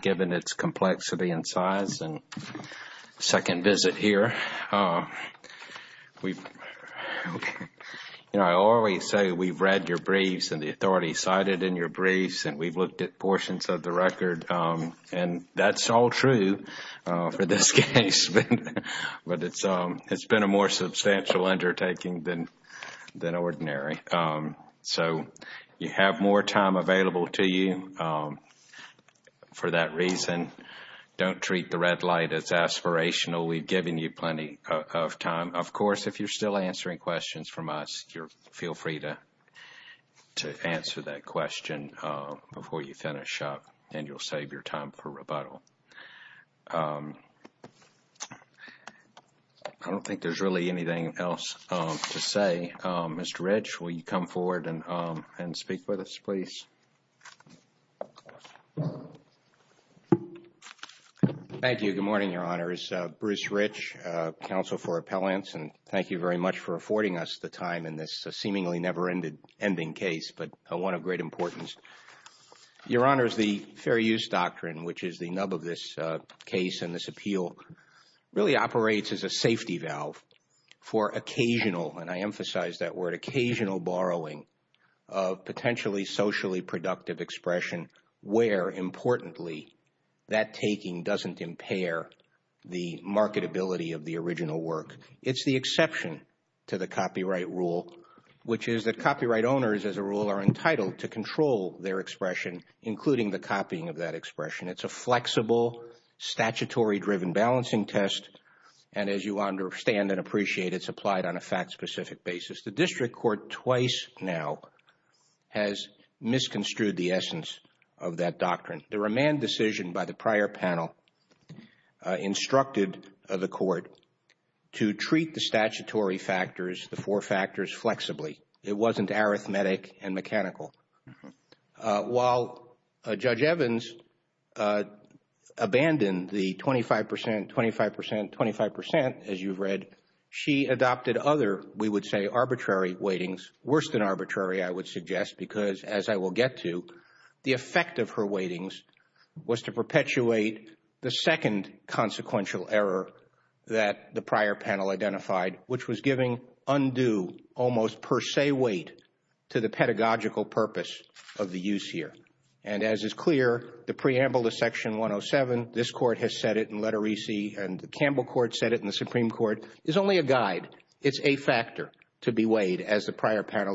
Given its complexity and size and second visit here We You know, I always say we've read your briefs and the authority cited in your briefs and we've looked at portions of the record And that's all true for this case But it's um, it's been a more substantial undertaking than than ordinary So you have more time available to you? For that reason Don't treat the red light as aspirational. We've given you plenty of time of course, if you're still answering questions from us, you're feel free to To answer that question before you finish up and you'll save your time for rebuttal I don't think there's really anything else to say. Mr. Reg, will you come forward and and speak with us, please? Thank You good morning your honors Bruce Rich Counsel for appellants and thank you very much for affording us the time in this seemingly never ended ending case But one of great importance Your honors the fair use doctrine, which is the nub of this case and this appeal Really operates as a safety valve for occasional and I emphasize that word occasional borrowing of Where importantly that taking doesn't impair the marketability of the original work It's the exception to the copyright rule Which is that copyright owners as a rule are entitled to control their expression including the copying of that expression. It's a flexible statutory driven balancing test and as you understand and appreciate it's applied on a fact-specific basis the district court twice now has Misconstrued the essence of that doctrine the remand decision by the prior panel Instructed the court to treat the statutory factors the four factors flexibly. It wasn't arithmetic and mechanical while a judge Evans Abandoned the 25% 25% 25% as you've read she adopted other we would say arbitrary weightings Worst than arbitrary I would suggest because as I will get to the effect of her weightings was to perpetuate the second consequential error that the prior panel identified which was giving undo almost per se weight to the pedagogical purpose of the use here and as is clear the preamble to section 107 this court has said it in letter EC and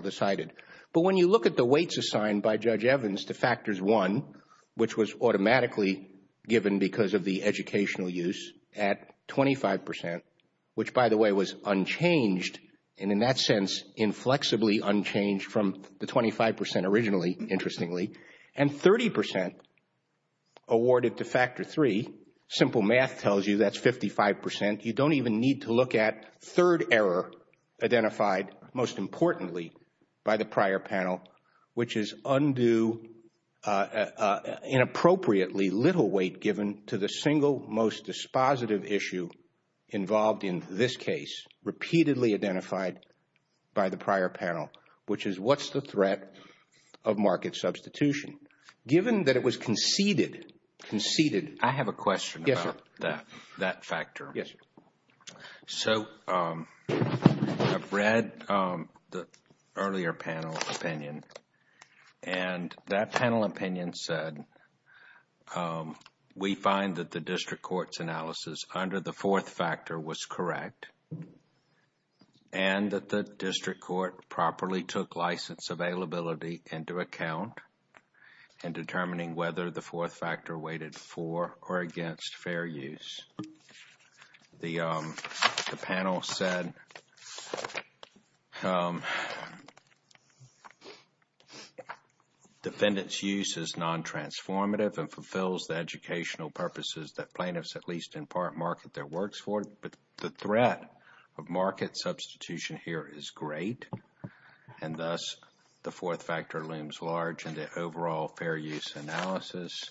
Decided but when you look at the weights assigned by judge Evans to factors one, which was automatically given because of the educational use at 25% which by the way was unchanged and in that sense inflexibly unchanged from the 25% originally interestingly and 30% Awarded to factor three simple math tells you that's 55% You don't even need to look at third error Identified most importantly by the prior panel, which is undue Inappropriately little weight given to the single most dispositive issue involved in this case Repeatedly identified by the prior panel, which is what's the threat of market substitution? Given that it was conceded Conceded I have a question about that that factor. Yes so I've read the earlier panel opinion and that panel opinion said We find that the district courts analysis under the fourth factor was correct and that the district court properly took license availability into account and Determining whether the fourth factor waited for or against fair use the panel said Um Defendants use is Non-transformative and fulfills the educational purposes that plaintiffs at least in part market their works for but the threat of market substitution here is great and Thus the fourth factor looms large and the overall fair use analysis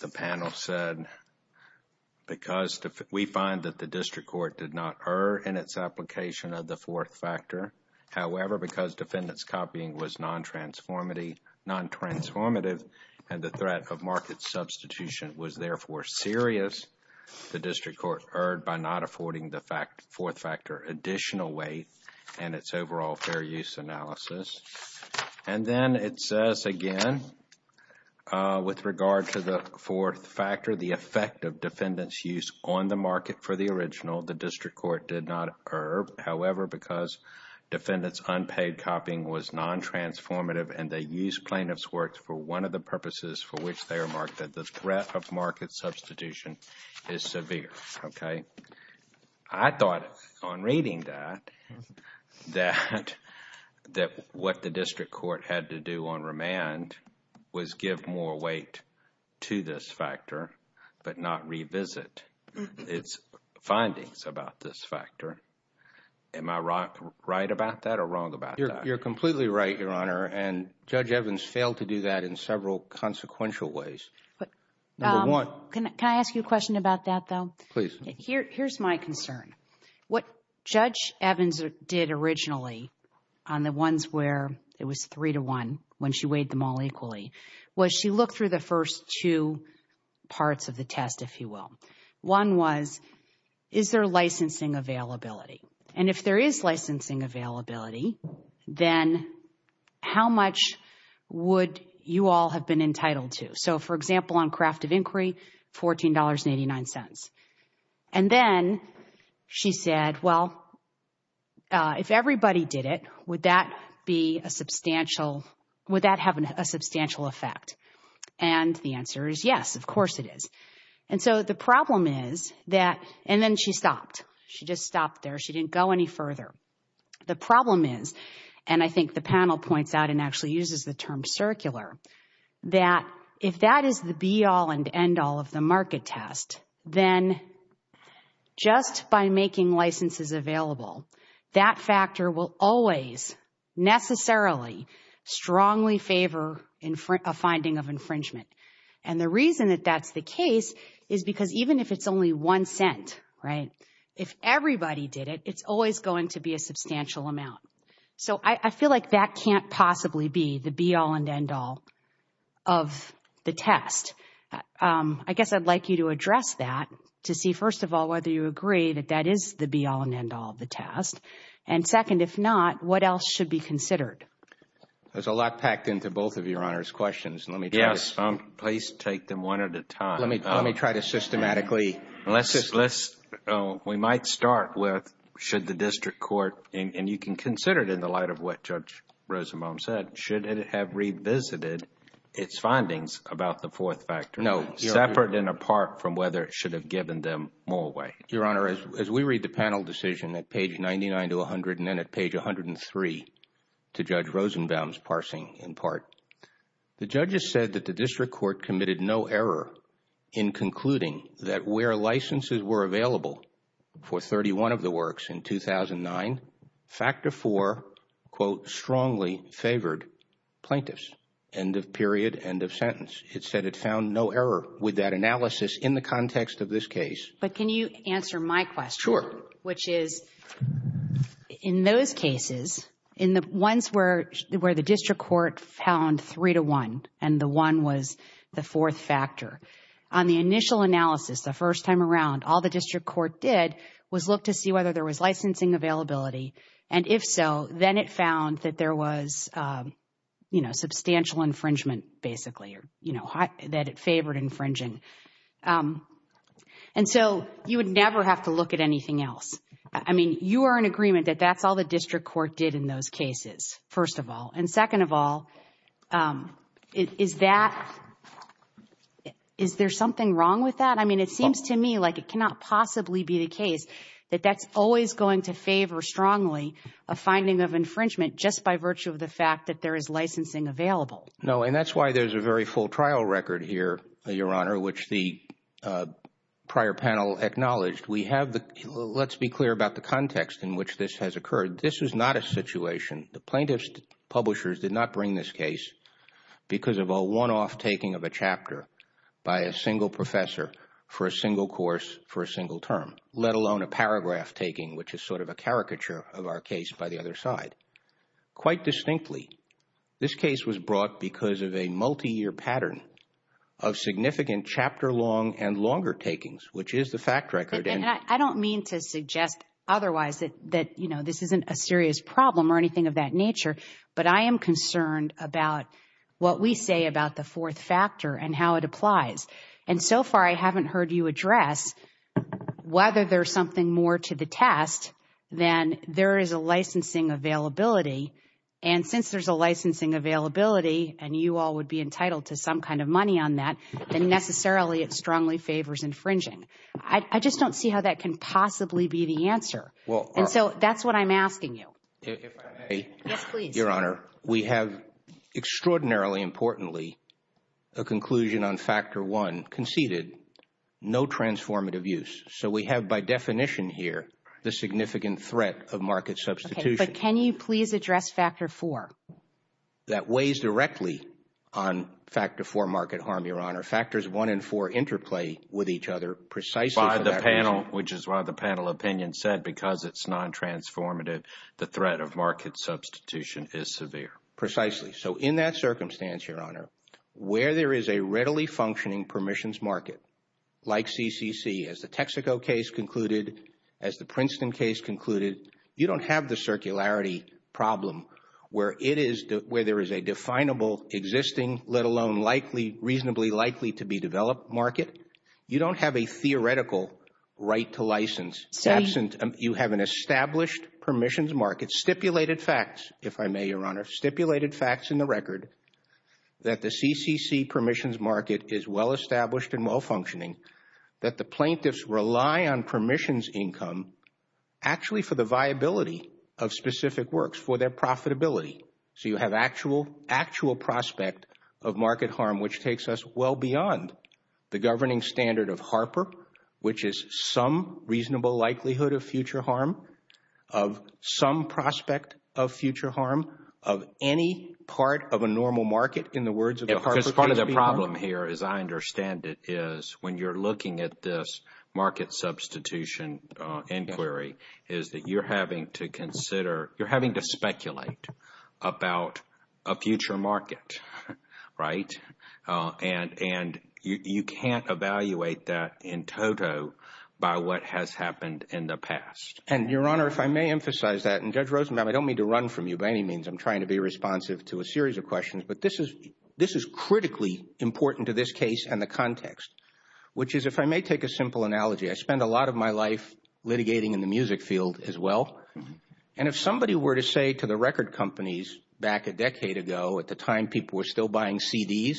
the panel said Because we find that the district court did not err in its application of the fourth factor however, because defendants copying was non-transformative Non-transformative and the threat of market substitution was therefore serious the district court erred by not affording the fact fourth factor additional weight and its overall fair use analysis and Then it says again With regard to the fourth factor the effect of defendants use on the market for the original the district court did not occur however, because defendants unpaid copying was Non-transformative and they use plaintiffs works for one of the purposes for which they are marked at the threat of market substitution Is severe, okay. I Thought on reading that that That what the district court had to do on remand Was give more weight to this factor, but not revisit its findings about this factor Am I rock right about that or wrong about you're completely right your honor and judge Evans failed to do that in several consequential ways Can I ask you a question about that though, please? Here's my concern what judge Evans did originally On the ones where it was three to one when she weighed them all equally was she looked through the first two Parts of the test if you will one was is there licensing availability and if there is licensing availability then How much? Would you all have been entitled to so for example on craft of inquiry? $14.89 and then She said well If everybody did it would that be a substantial would that have a substantial effect and The answer is yes, of course it is and so the problem is that and then she stopped she just stopped there She didn't go any further The problem is and I think the panel points out and actually uses the term circular that if that is the be-all and end-all of the market test then Just by making licenses available that factor will always Necessarily strongly favor in front of finding of infringement and the reason that that's the case is because even if it's only one cent Right if everybody did it it's always going to be a substantial amount so I feel like that can't possibly be the be-all and end-all of the test I guess I'd like you to address that to see first of all whether you agree that that is the be-all and end-all of The test and second, if not, what else should be considered? There's a lot packed into both of your honors questions. Let me guess. Please take them one at a time Let me try to systematically unless it's less We might start with should the district court and you can consider it in the light of what judge Rosenbaum said should have revisited its findings about the fourth factor No separate and apart from whether it should have given them more weight Your honor as we read the panel decision at page 99 to 100 and then at page 103 to judge Rosenbaum's parsing in part The judges said that the district court committed no error in Concluding that where licenses were available for 31 of the works in 2009 factor for quote strongly favored Plaintiffs and the period end of sentence It said it found no error with that analysis in the context of this case, but can you answer my question? which is in those cases in the ones where where the district court found three to one and the one was The fourth factor on the initial analysis the first time around all the district court did was look to see whether there was licensing availability, and if so, then it found that there was You know substantial infringement basically, or you know hot that it favored infringing and So you would never have to look at anything else I mean you are in agreement that that's all the district court did in those cases first of all and second of all Is that? Is there something wrong with that? Like it cannot possibly be the case that that's always going to favor strongly a Finding of infringement just by virtue of the fact that there is licensing available no, and that's why there's a very full trial record here your honor, which the Prior panel acknowledged we have the let's be clear about the context in which this has occurred This is not a situation the plaintiffs publishers did not bring this case Because of a one-off taking of a chapter by a single professor for a single course for a single term Let alone a paragraph taking which is sort of a caricature of our case by the other side quite distinctly this case was brought because of a multi-year pattern of Significant chapter long and longer takings which is the fact record and I don't mean to suggest Otherwise that that you know, this isn't a serious problem or anything of that nature, but I am concerned about What we say about the fourth factor and how it applies and so far. I haven't heard you address whether there's something more to the test then there is a licensing availability and Since there's a licensing availability and you all would be entitled to some kind of money on that and necessarily it strongly favors infringing I just don't see how that can possibly be the answer. Well, so that's what I'm asking you Your honor we have extraordinarily importantly a conclusion on factor one conceded No transformative use so we have by definition here the significant threat of market substitutes But can you please address factor for? that weighs directly on Factor for market harm your honor factors one and four interplay with each other precise on the panel Which is why the panel opinion said because it's non Transformative the threat of market substitution is severe precisely So in that circumstance your honor where there is a readily functioning permissions market Like CCC as the Texaco case concluded as the Princeton case concluded you don't have the circularity Problem where it is where there is a definable existing let alone likely reasonably likely to be developed market You don't have a theoretical Right to license absent you have an established permissions market stipulated facts if I may your honor stipulated facts in the record That the CCC permissions market is well established and well functioning that the plaintiffs rely on permissions income Actually for the viability of specific works for their profitability So you have actual actual prospect of market harm, which takes us well beyond the governing standard of Harper which is some reasonable likelihood of future harm of Some prospect of future harm of any part of a normal market in the words It's part of the problem here as I understand it is when you're looking at this market substitution Inquiry is that you're having to consider you're having to speculate about a future market right And and you can't evaluate that in total By what has happened in the past and your honor if I may emphasize that and judge Rosenbaum I don't mean to run from you by any means. I'm trying to be responsive to a series of questions But this is this is critically important to this case and the context which is if I may take a simple analogy I spend a lot of my life Litigating in the music field as well And if somebody were to say to the record companies back a decade ago at the time people were still buying CDs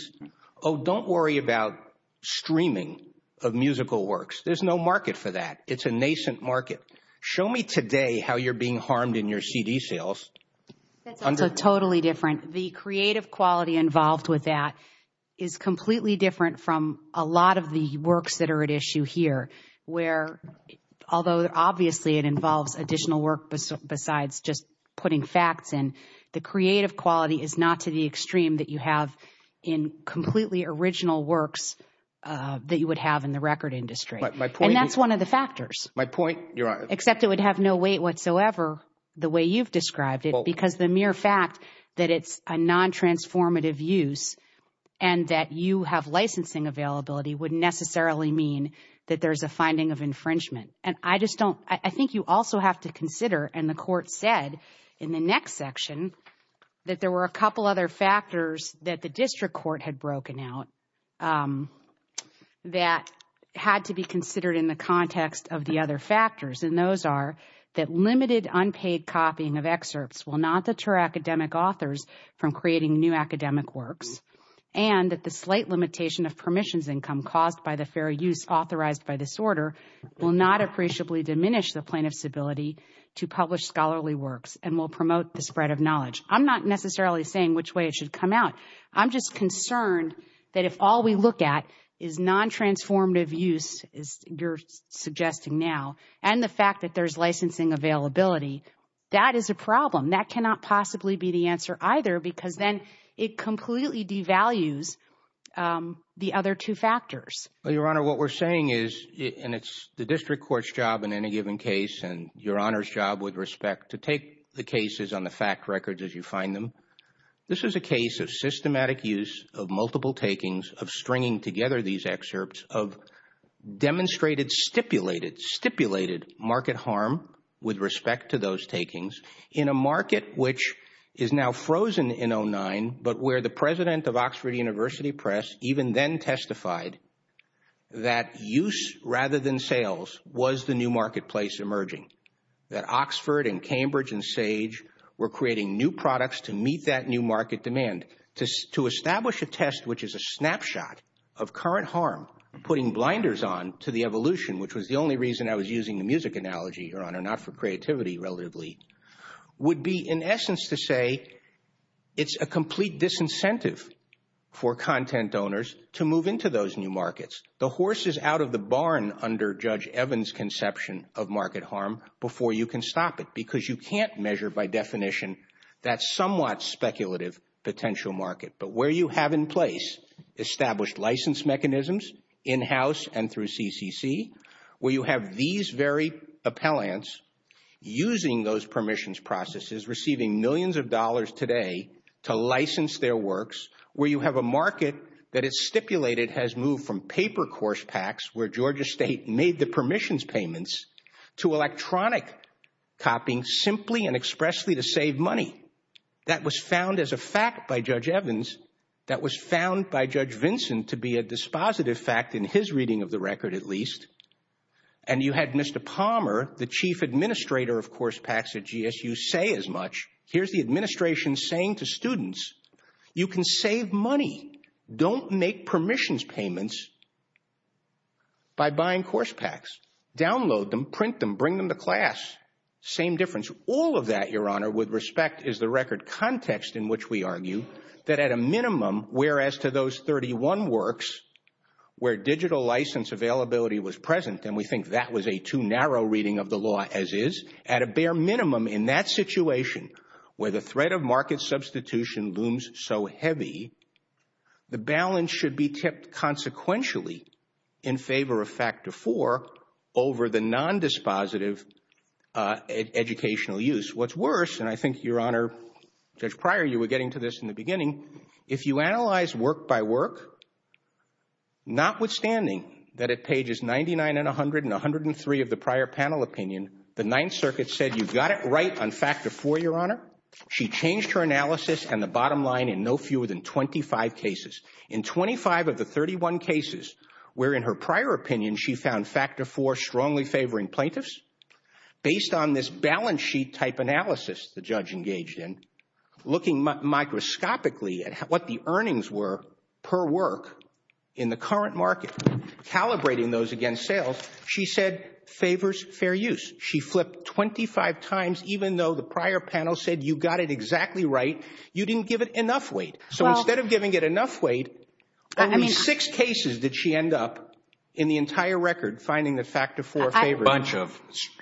Oh, don't worry about Streaming of musical works. There's no market for that. It's a nascent market show me today how you're being harmed in your CD sales Totally different the creative quality involved with that is completely different from a lot of the works that are at issue here where Although obviously it involves additional work Besides just putting facts and the creative quality is not to the extreme that you have in completely original works That you would have in the record industry, but that's one of the factors my point You're on except it would have no weight whatsoever the way you've described it because the mere fact that it's a non transformative use and That you have licensing availability wouldn't necessarily mean that there's a finding of infringement I just don't I think you also have to consider and the court said in the next section That there were a couple other factors that the district court had broken out That had to be considered in the context of the other factors and those are that limited unpaid copying of excerpts will not deter academic authors from creating new academic works and The slight limitation of permissions income caused by the fair use authorized by disorder will not appreciably diminish the plaintiff's ability To publish scholarly works and will promote the spread of knowledge. I'm not necessarily saying which way it should come out I'm just concerned that if all we look at is non transformative use is you're Suggesting now and the fact that there's licensing availability That is a problem that cannot possibly be the answer either because then it completely devalues The other two factors, but your honor what we're saying is and it's the district courts job in any given case and your honors job with respect to take the cases on The fact records as you find them. This is a case of systematic use of multiple takings of stringing together these excerpts of demonstrated stipulated stipulated market harm with respect to those takings in a market Which is now frozen in o9, but where the president of Oxford University Press even then testified That use rather than sales was the new marketplace emerging That Oxford and Cambridge and sage were creating new products to meet that new market demand Just to establish a test Which is a snapshot of current harm putting blinders on to the evolution Which was the only reason I was using the music analogy or on or not for creativity relatively Would be in essence to say It's a complete disincentive For content owners to move into those new markets the horse is out of the barn under judge Evans Conception of market harm before you can stop it because you can't measure by definition That's somewhat speculative potential market, but where you have in place established license mechanisms in-house and through CCC where you have these very appellants Using those permissions processes receiving millions of dollars today To license their works where you have a market that it's stipulated has moved from paper course packs Where Georgia State made the permissions payments to electronic? Copying simply and expressly to save money that was found as a fact by judge Evans that was found by judge Vincent to be a dispositive fact in his reading of the record at least and Administrator of course packs at GSU say as much here's the administration saying to students you can save money Don't make permissions payments By buying course packs download them print them bring them to class Same difference all of that your honor with respect is the record context in which we argue that at a minimum whereas to those 31 works Where digital license availability was present and we think that was a too narrow reading of the law as is at a bare minimum in That situation where the threat of market substitution booms so heavy The balance should be kept Consequentially in favor of factor for over the non dispositive Educational use what's worse and I think your honor judge prior you were getting to this in the beginning if you analyze work by work Not withstanding that at pages 99 and 100 and 103 of the prior panel opinion the Ninth Circuit said you've got it Right on factor for your honor She changed her analysis and the bottom line in no fewer than 25 cases in 25 of the 31 cases where in her prior opinion she found factor for strongly favoring plaintiffs based on this balance sheet type analysis the judge engaged in Looking Microscopically at what the earnings were per work in the current market Calibrating those against sales. She said favors fair use She flipped 25 times, even though the prior panel said you got it exactly right. You didn't give it enough weight So instead of giving it enough weight I mean six cases that she end up in the entire record finding the factor for a bunch of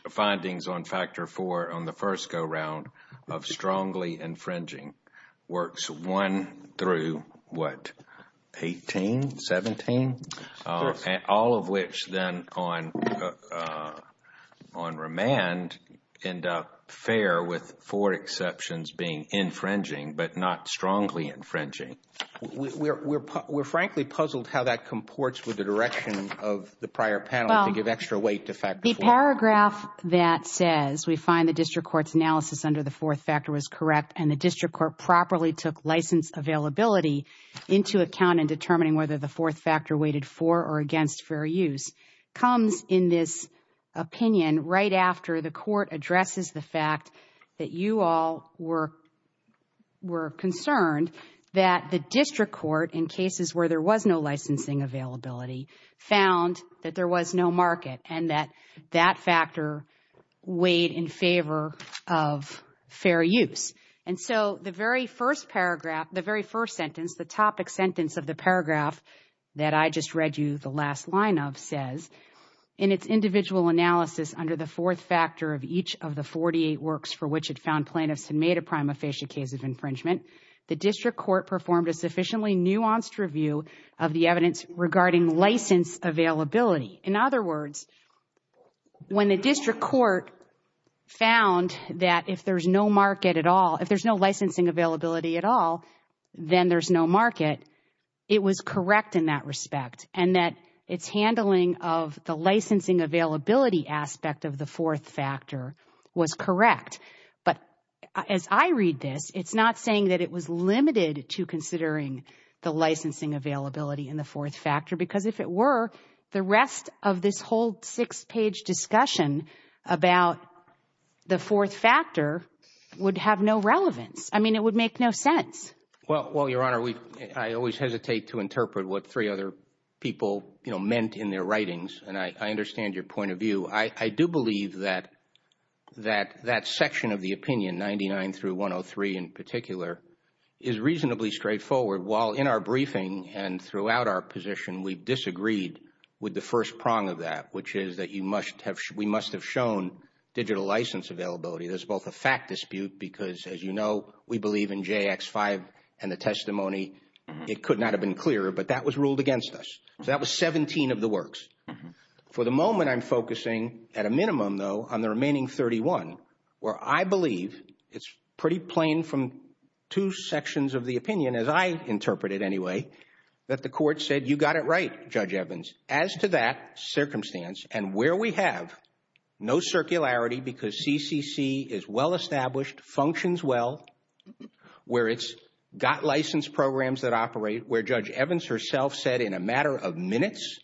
Findings on factor for on the first go-round of strongly infringing works one through what? 18 17 all of which then on On remand end up fair with four exceptions being infringing but not strongly infringing We're frankly puzzled how that comports with the direction of the prior panel to give extra weight to fact the paragraph That says we find the district courts analysis under the fourth factor was correct and the district court properly took license availability Into account in determining whether the fourth factor waited for or against fair use comes in this Opinion right after the court addresses the fact that you all were Were concerned that the district court in cases where there was no licensing availability Found that there was no market and that that factor weighed in favor of Fair use and so the very first paragraph the very first sentence the topic sentence of the paragraph That I just read you the last line of says in its individual analysis under the fourth factor of each of the 48 works For which it found plaintiffs and made a prima facie case of infringement The district court performed a sufficiently nuanced review of the evidence regarding license availability in other words when the district court Found that if there's no market at all, if there's no licensing availability at all Then there's no market It was correct in that respect and that its handling of the licensing availability Aspect of the fourth factor was correct But as I read it It's not saying that it was limited to considering the licensing availability in the fourth factor because if it were the rest of this whole six page discussion about The fourth factor would have no relevance. I mean it would make no sense Well, well your honor we I always hesitate to interpret what three other people, you know meant in their writings And I understand your point of view. I I do believe that That that section of the opinion 99 through 103 in particular is Reasonably straightforward while in our briefing and throughout our position We disagreed with the first prong of that which is that you must have we must have shown Digital license availability. There's both a fact dispute because as you know, we believe in jx5 and the testimony It could not have been clearer, but that was ruled against us. So that was 17 of the works For the moment I'm focusing at a minimum though on the remaining 31 where I believe it's pretty plain from Two sections of the opinion as I interpret it Anyway that the court said you got it, right judge Evans as to that circumstance and where we have No circularity because CCC is well established functions. Well Where it's got licensed programs that operate where judge Evans herself said in a matter of minutes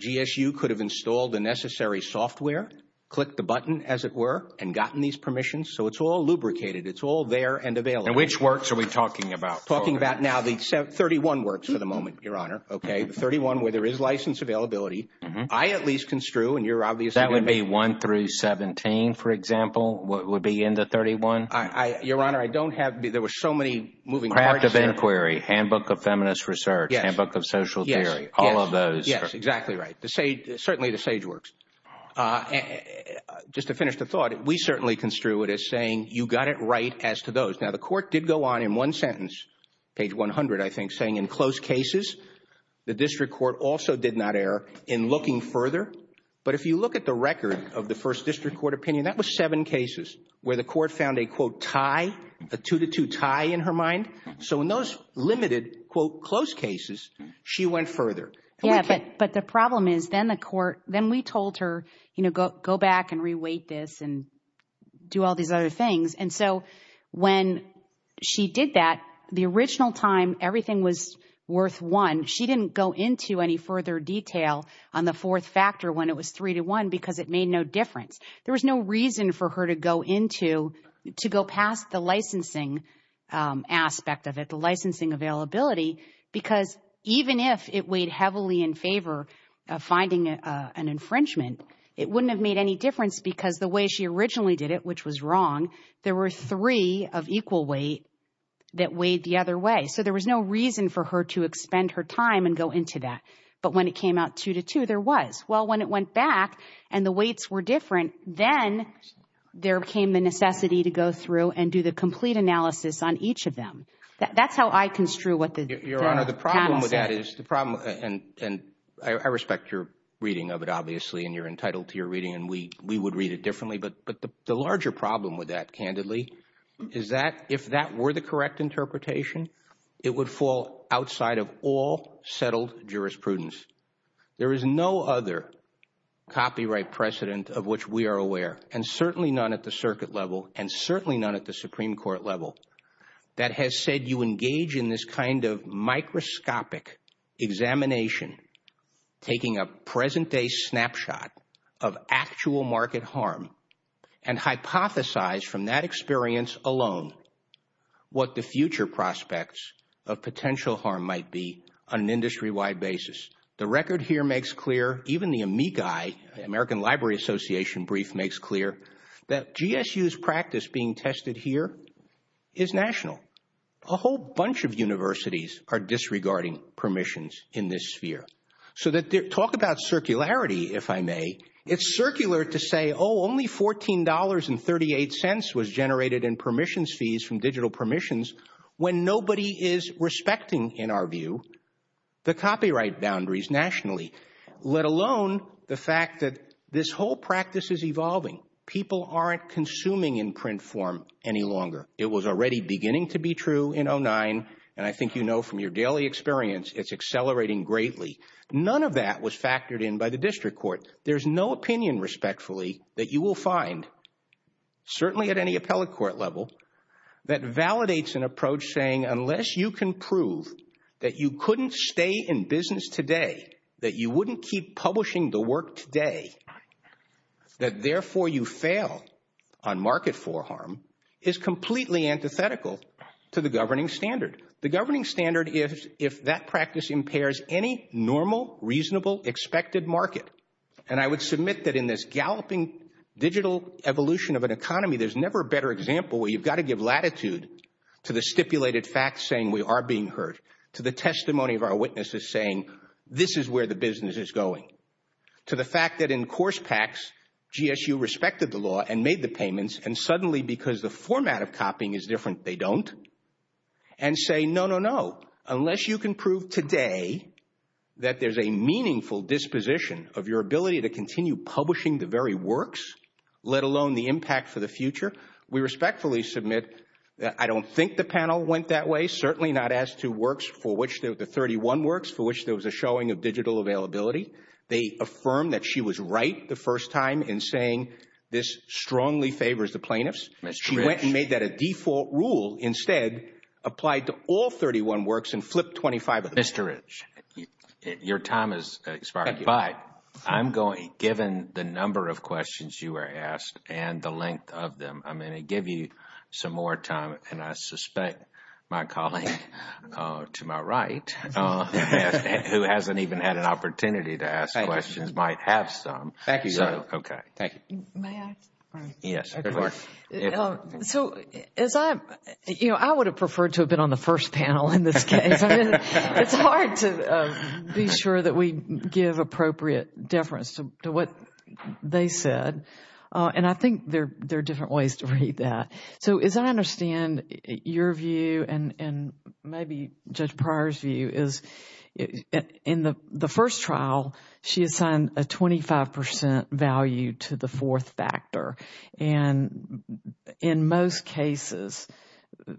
GSU could have installed the necessary software click the button as it were and gotten these permissions. So it's all lubricated It's all there and available which works are we talking about talking about now the except 31 works for the moment your honor Okay, 31 where there is license availability. I at least construe and you're obvious that would be 1 through 17 For example, what would be in the 31? I your honor. I don't have there were so many moving craft of inquiry Handbook of feminist research and book of social theory all of those. Yes, exactly, right to say certainly the sage works Just to finish the thought we certainly construe it as saying you got it right as to those now the court did go on in One sentence page 100 I think saying in close cases The district court also did not err in looking further But if you look at the record of the first district court opinion That was seven cases where the court found a quote tie a two to two tie in her mind So in those limited quote close cases, she went further yeah, but but the problem is then the court then we told her, you know, go go back and reweight this and Do all these other things and so when? She did that the original time everything was worth one She didn't go into any further detail on the fourth factor when it was three to one because it made no difference There was no reason for her to go into to go past the licensing Aspect of it the licensing availability Because even if it weighed heavily in favor of finding an infringement It wouldn't have made any difference because the way she originally did it which was wrong. There were three of equal weight That weighed the other way So there was no reason for her to expend her time and go into that But when it came out two to two there was well when it went back and the weights were different then There came a necessity to go through and do the complete analysis on each of them That's how I construe what the problem with that is the problem and and I respect your reading of it Obviously and you're entitled to your reading and we we would read it differently But the larger problem with that candidly is that if that were the correct interpretation It would fall outside of all settled jurisprudence There is no other Copyright precedent of which we are aware and certainly none at the circuit level and certainly none at the Supreme Court level That has said you engage in this kind of microscopic examination taking a present-day snapshot of actual market harm and hypothesize from that experience alone What the future prospects of potential harm might be on an industry-wide basis? The record here makes clear even the amici American Library Association brief makes clear that GSU's practice being tested here is National a whole bunch of universities are disregarding permissions in this sphere So that they talk about circularity if I may it's circular to say Oh only $14.38 was generated in permissions fees from digital permissions when nobody is respecting in our view The copyright boundaries nationally let alone the fact that this whole practice is evolving People aren't consuming in print form any longer It was already beginning to be true in oh nine and I think you know from your daily experience It's accelerating greatly. None of that was factored in by the district court. There's no opinion respectfully that you will find certainly at any appellate court level That validates an approach saying unless you can prove that you couldn't stay in business today That you wouldn't keep publishing the work today That therefore you fail on market for harm is completely antithetical To the governing standard the governing standard is if that practice impairs any normal reasonable expected market And I would submit that in this galloping digital evolution of an economy there's never a better example where you've got to give latitude to the stipulated facts saying we are being hurt to the Testimony of our witnesses saying this is where the business is going to the fact that in course tax GSU respected the law and made the payments and suddenly because the format of copying is different they don't and Say no no no unless you can prove today That there's a meaningful disposition of your ability to continue publishing the very works Let alone the impact for the future We respectfully submit that I don't think the panel went that way certainly not as to works for which there were 31 works for which There was a showing of digital availability They affirmed that she was right the first time in saying this strongly favors the plaintiffs That's she went and made that a default rule instead Applied to all 31 works and flip 25 of mr. H Your time is expired, but I'm going given the number of questions you were asked and the length of them I'm going to give you some more time, and I suspect my colleague to my right Who hasn't even had an opportunity to ask questions might have some thank you. Okay. Thank you Yes So as I you know I would have preferred to have been on the first panel in this Be sure that we give appropriate deference to what they said And I think they're they're different ways to read that so as I understand your view and and maybe just priors view is in the the first trial she assigned a 25% value to the fourth factor and in most cases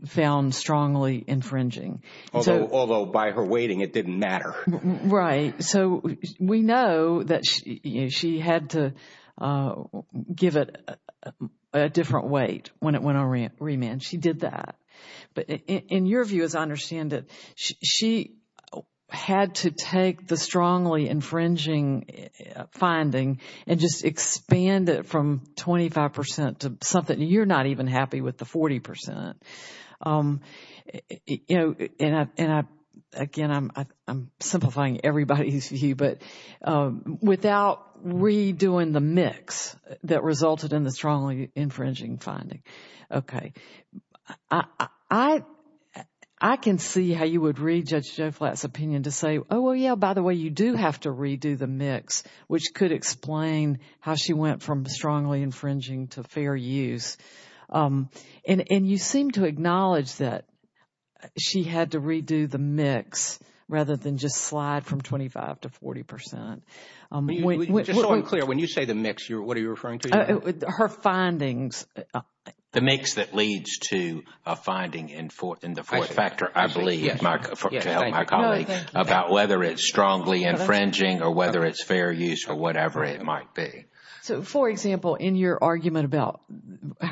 Found strongly infringing although although by her waiting it didn't matter right so we know that she had to give it a Different weight when it went on remand she did that but in your view as I understand it she Had to take the strongly infringing Finding and just expand it from 25% to something you're not even happy with the 40% You know and I again, I'm simplifying everybody who see you but Without redoing the mix that resulted in the strongly infringing finding okay, I I Can see how you would read judge Jeff flats opinion to say oh well Yeah, by the way, you do have to redo the mix which could explain how she went from strongly infringing to fair use And and you seem to acknowledge that She had to redo the mix rather than just slide from 25 to 40 percent When you say the next year, what are you referring to? her findings The mix that leads to a finding in fourth in the fourth factor. I believe my About whether it's strongly infringing or whether it's fair use or whatever it might be so for example in your argument about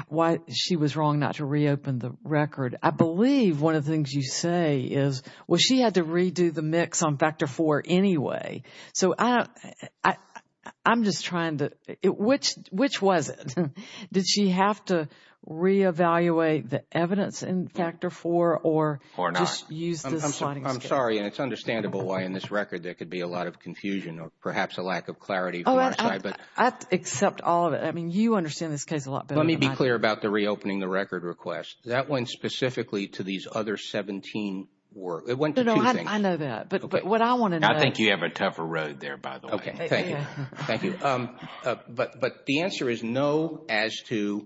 Why she was wrong not to reopen the record I believe one of the things you say is well, she had to redo the mix on factor for anyway, so I I'm just trying to it which which was it. Did she have to? Re-evaluate the evidence in factor for or or not use I'm sorry, and it's understandable why in this record there could be a lot of confusion or perhaps a lack of clarity But I accept all of it. I mean you understand this case a lot Let me be clear about the reopening the record request that went specifically to these other 17 Work, it went I know that but what I want to I think you have a tougher road there, by the way Okay, thank you. Thank you But but the answer is no as to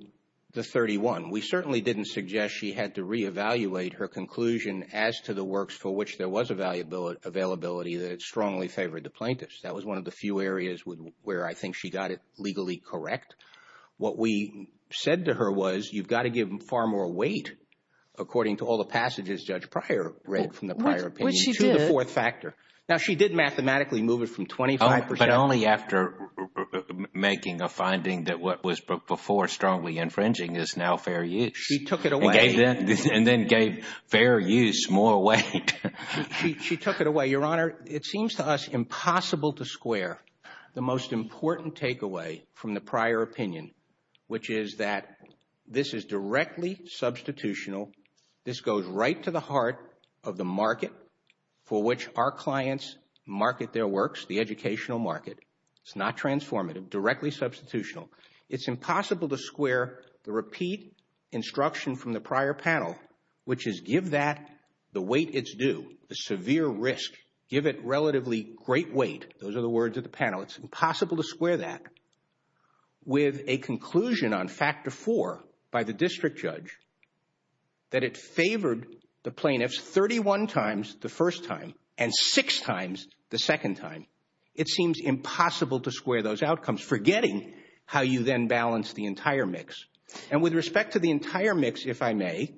The 31 we certainly didn't suggest she had to re-evaluate her conclusion as to the works for which there was a value bill Availability that strongly favored the plaintiffs. That was one of the few areas with where I think she got it legally, correct What we said to her was you've got to give them far more weight According to all the passages judge prior read from the prior. She's a fourth factor now she did mathematically move it from 25, but only after Making a finding that what was before strongly infringing is now fair you she took it away And then gave fair use more weight She took it away your honor. It seems to us impossible to square the most important takeaway from the prior opinion Which is that this is directly? Substitutional this goes right to the heart of the market for which our clients Market their works the educational market. It's not transformative directly substitutional. It's impossible to square the repeat Instruction from the prior panel, which is give that the weight it's due the severe risk give it relatively great weight Those are the words of the panel. It's impossible to square that with a conclusion on factor four by the district judge That it favored the plaintiffs 31 times the first time and six times the second time it seems Impossible to square those outcomes forgetting how you then balance the entire mix and with respect to the entire mix if I may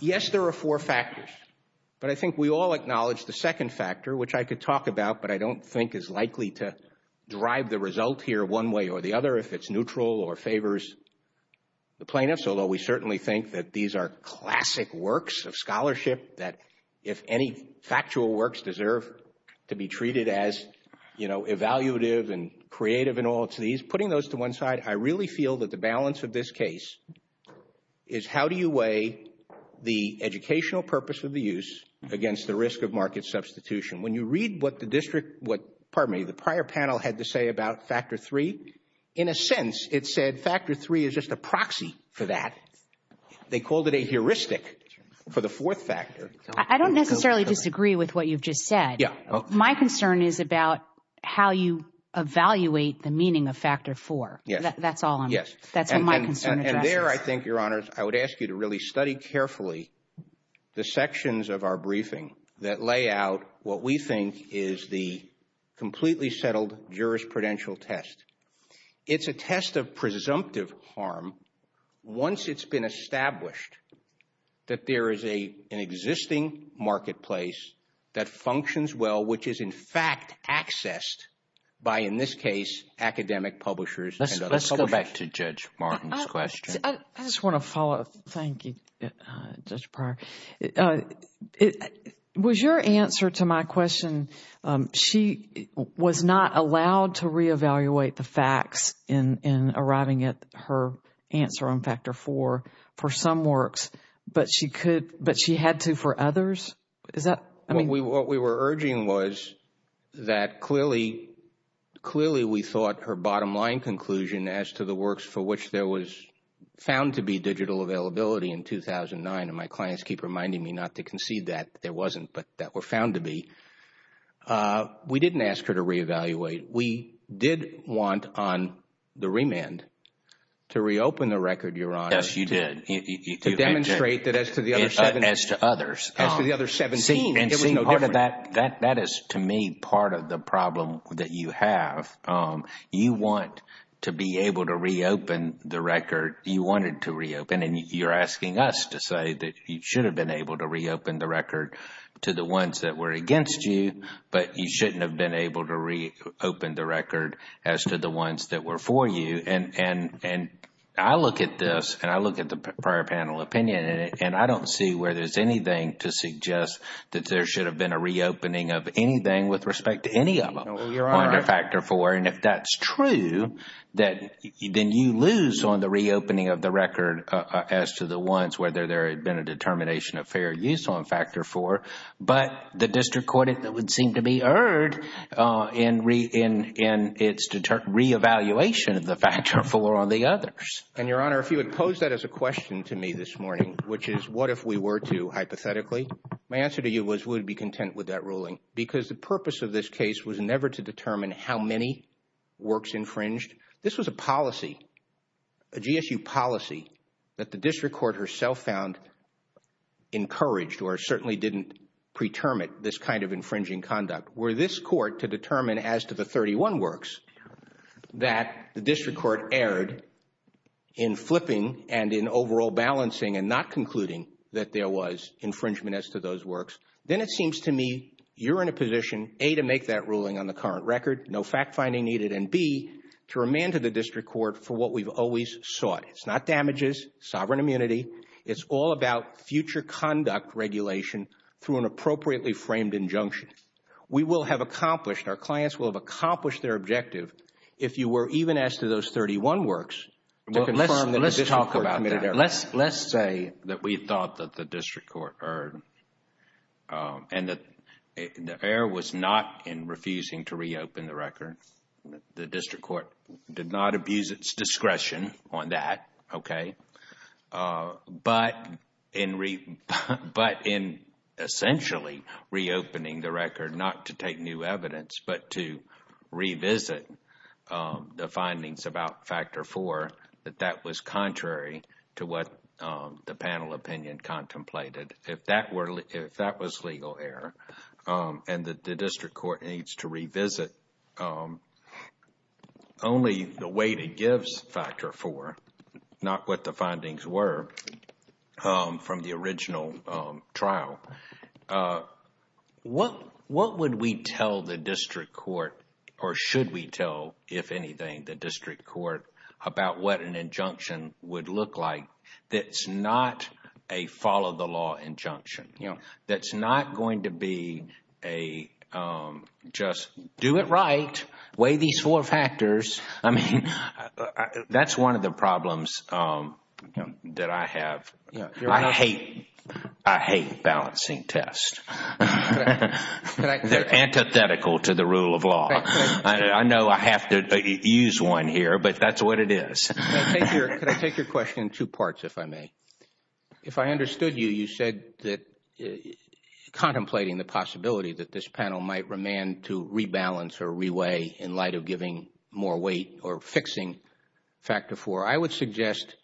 Yes, there are four factors but I think we all acknowledge the second factor which I could talk about but I don't think is likely to Derive the result here one way or the other if it's neutral or favors The plaintiffs, although we certainly think that these are classic works of scholarship that if any factual works deserve To be treated as you know, evaluative and creative and all to these putting those to one side I really feel that the balance of this case is How do you weigh the educational purpose of the use against the risk of market substitution when you read what the district? Pardon me. The prior panel had to say about factor three in a sense. It said factor three is just a proxy for that They called it a heuristic for the fourth factor. I don't necessarily disagree with what you've just said. Yeah, my concern is about How you? Evaluate the meaning of factor four. Yeah, that's all. Yes There I think your honors. I would ask you to really study carefully The sections of our briefing that lay out what we think is the completely settled jurisprudential test It's a test of presumptive harm Once it's been established That there is a existing Marketplace that functions well, which is in fact accessed by in this case academic publishers Let's go back to judge Martin's question, I just want to follow up. Thank you Was your answer to my question she Was not allowed to re-evaluate the facts in in arriving at her answer on factor four for some works But she could but she had to for others. Is that what we were urging was that clearly Clearly we thought her bottom-line conclusion as to the works for which there was Found to be digital availability in 2009 and my clients keep reminding me not to concede that there wasn't but that were found to be We didn't ask her to re-evaluate we did want on the remand to reopen the record. You're on as you did Demonstrate that as to the other seven as to others The other 17 and see part of that that that is to me part of the problem that you have You want to be able to reopen the record you wanted to reopen and you're asking us to say that you should have been Able to reopen the record to the ones that were against you but you shouldn't have been able to read open the record as to the ones that were for you and and and I look at this and I look at the prior panel opinion in it and I don't see where there's anything to suggest That there should have been a reopening of anything with respect to any of them Factor four and if that's true that then you lose on the reopening of the record as to the ones whether there had been a Determination of fair use on factor four, but the district court it that would seem to be heard in re in in its Re-evaluation of the factor for all the others and your honor if you would pose that as a question to me this morning Which is what if we were to hypothetically my answer to you was would be content with that ruling because the purpose of this case Was never to determine how many? Works infringed. This was a policy a GSU policy that the district court herself found Encouraged or certainly didn't preterm it this kind of infringing conduct where this court to determine as to the 31 works that the district court erred in Flipping and in overall balancing and not concluding that there was infringement as to those works Then it seems to me you're in a position a to make that ruling on the current record No fact-finding needed and be to remand to the district court for what we've always sought. It's not damages sovereign immunity It's all about future conduct regulation through an appropriately framed injunction We will have accomplished our clients will have accomplished their objective if you were even asked to those 31 works Well, let's let's talk about it. Let's let's say that we thought that the district court heard and the Affair was not in refusing to reopen the record. The district court did not abuse its discretion on that Okay but in re but in Essentially reopening the record not to take new evidence, but to revisit the findings about factor for that that was contrary to what the panel opinion Contemplated if that were if that was legal error And the district court needs to revisit Only the way to gives factor for not what the findings were from the original Trial What what would we tell the district court or should we tell if anything the district court about what an Injunction would look like that's not a follow the law injunction. You know, that's not going to be a Just do it right way these four factors. I mean That's one of the problems That I have I hate I hate balancing test They're antithetical to the rule of law, I know I have to use one here, but that's what it is Take your question two parts. If I may if I understood you you said that Contemplating the possibility that this panel might remain to rebalance or reweigh in light of giving more weight or fixing Factor for I would suggest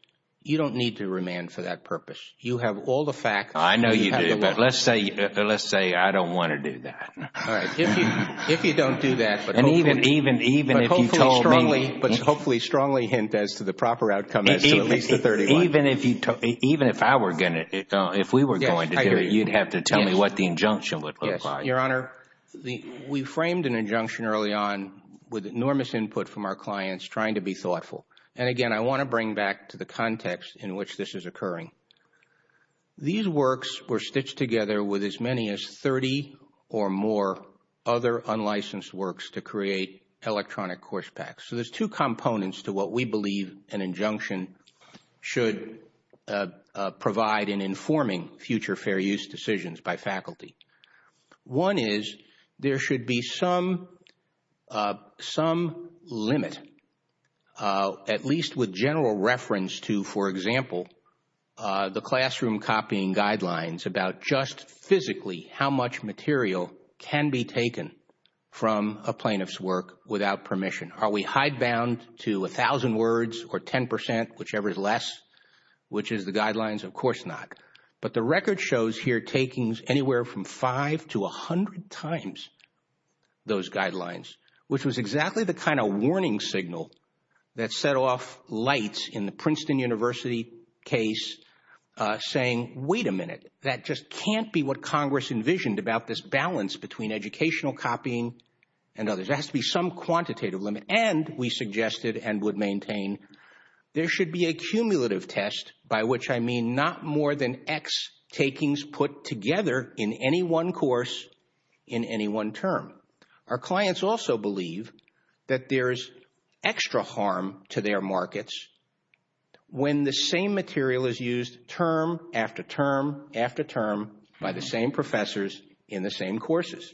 you don't need to remand for that purpose. You have all the fact. I know you do But let's say let's say I don't want to do that If you don't do that, but I mean even even even Strongly, but hopefully strongly hint as to the proper outcome Even if you took even if I were gonna it if we were going to do it You'd have to tell me what the injunction would apply your honor The we framed an injunction early on with enormous input from our clients trying to be thoughtful and again I want to bring back to the context in which this is occurring These works were stitched together with as many as 30 or more other Unlicensed works to create electronic course packs. So there's two components to what we believe an injunction should provide in informing future fair use decisions by faculty One is there should be some some limit At least with general reference to for example The classroom copying guidelines about just physically how much material can be taken From a plaintiff's work without permission. Are we hide bound to a thousand words or 10% whichever is less? Which is the guidelines of course not but the record shows here takings anywhere from five to a hundred times Those guidelines, which was exactly the kind of warning signal that set off lights in the Princeton University case Saying wait a minute. That just can't be what Congress envisioned about this balance between educational copying and others There has to be some quantitative limit and we suggested and would maintain There should be a cumulative test by which I mean not more than X takings put together in any one course in Any one term our clients also believe that there's extra harm to their markets When the same material is used term after term after term by the same professors in the same courses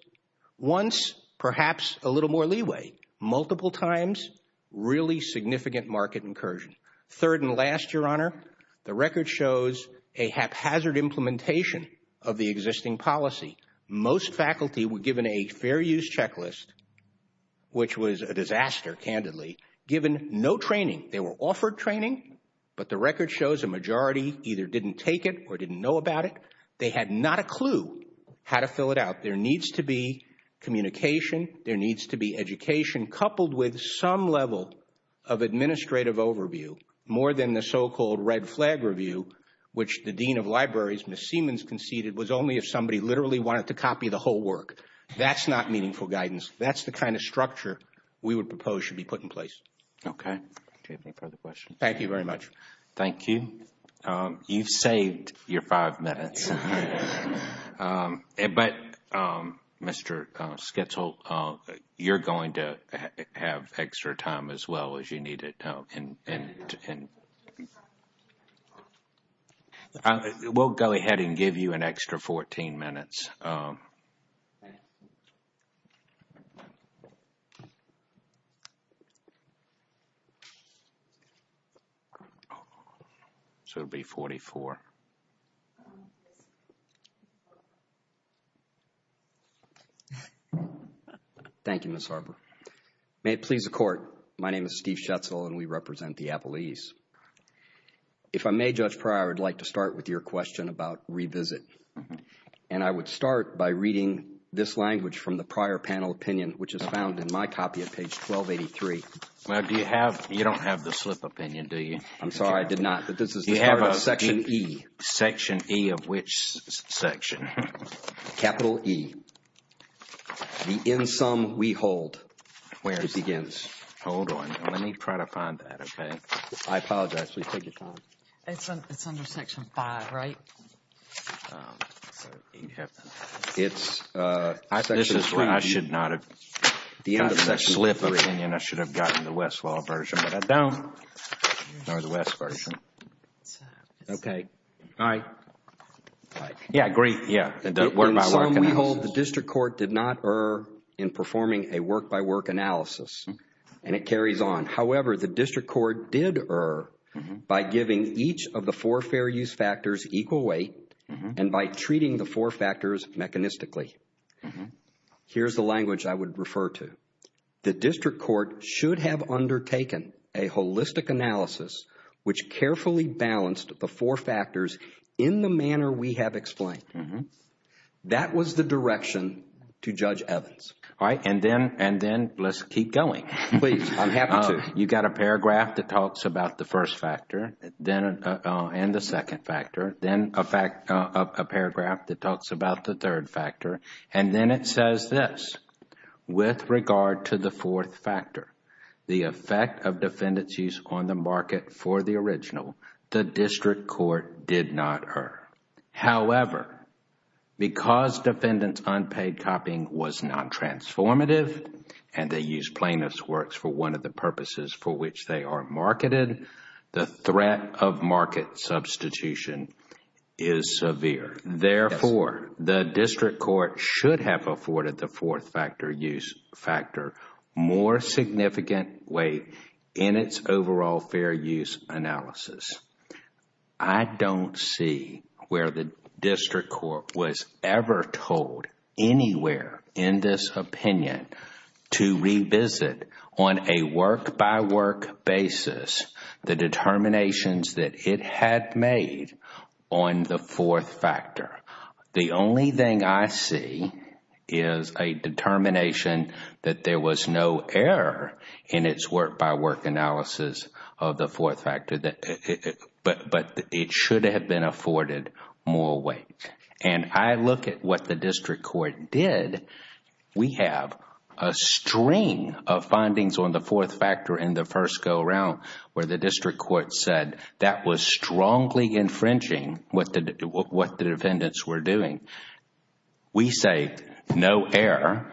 once perhaps a little more leeway multiple times Really significant market incursion third and last your honor The record shows a haphazard implementation of the existing policy. Most faculty were given a fair use checklist Which was a disaster candidly given no training They were offered training, but the record shows a majority either didn't take it or didn't know about it They had not a clue how to fill it out. There needs to be Communication there needs to be education coupled with some level of Administrative overview more than the so-called red flag review, which the Dean of Libraries miss Siemens conceded Was only if somebody literally wanted to copy the whole work. That's not meaningful guidance That's the kind of structure we would propose should be put in place. Okay Thank you very much. Thank you You've saved your five minutes But Mr. Skitzel, you're going to have extra time as well as you need to know and We'll go ahead and give you an extra 14 minutes So it'll be 44 Thank You miss Arbor may it please the court. My name is Steve Schatzel and we represent the Apple ease If I may judge prior I'd like to start with your question about revisit And I would start by reading this language from the prior panel opinion, which is found in my copy of page 1283 Well, do you have you don't have the slip opinion? Do you I'm sorry. I did not but this is you have a section e section e of which section Capital e The in some we hold where it begins. Hold on. Let me try to find that. Okay, I apologize It's I think this is what I should not have the end of that slip of Indian I should have gotten the Westlaw version, but I don't know the West version Okay. All right Yeah, great, yeah Hold the district court did not err in performing a work-by-work analysis and it carries on however The district court did err by giving each of the four fair use factors equal weight and by treating the four factors mechanistically Here's the language. I would refer to the district court should have undertaken a holistic analysis Which carefully balanced the four factors in the manner we have explained That was the direction to judge Evans. All right, and then and then let's keep going You got a paragraph that talks about the first factor then and the second factor then a fact a paragraph That talks about the third factor and then it says this With regard to the fourth factor the effect of defendants use on the market for the original the district court did not err however because defendants unpaid copying was Non-transformative and they use plainness works for one of the purposes for which they are marketed the threat of market substitution is Insevere therefore the district court should have afforded the fourth factor use factor more significant weight in its overall fair use analysis, I Don't see where the district court was ever told Anywhere in this opinion to revisit on a work-by-work basis the Fourth-factor the only thing I see is a determination that there was no error in its work-by-work analysis of the fourth factor that But but it should have been afforded more weight and I look at what the district court did we have a String of findings on the fourth factor in the first go-around where the district court said that was strongly Infringing what did what the defendants were doing? We say no error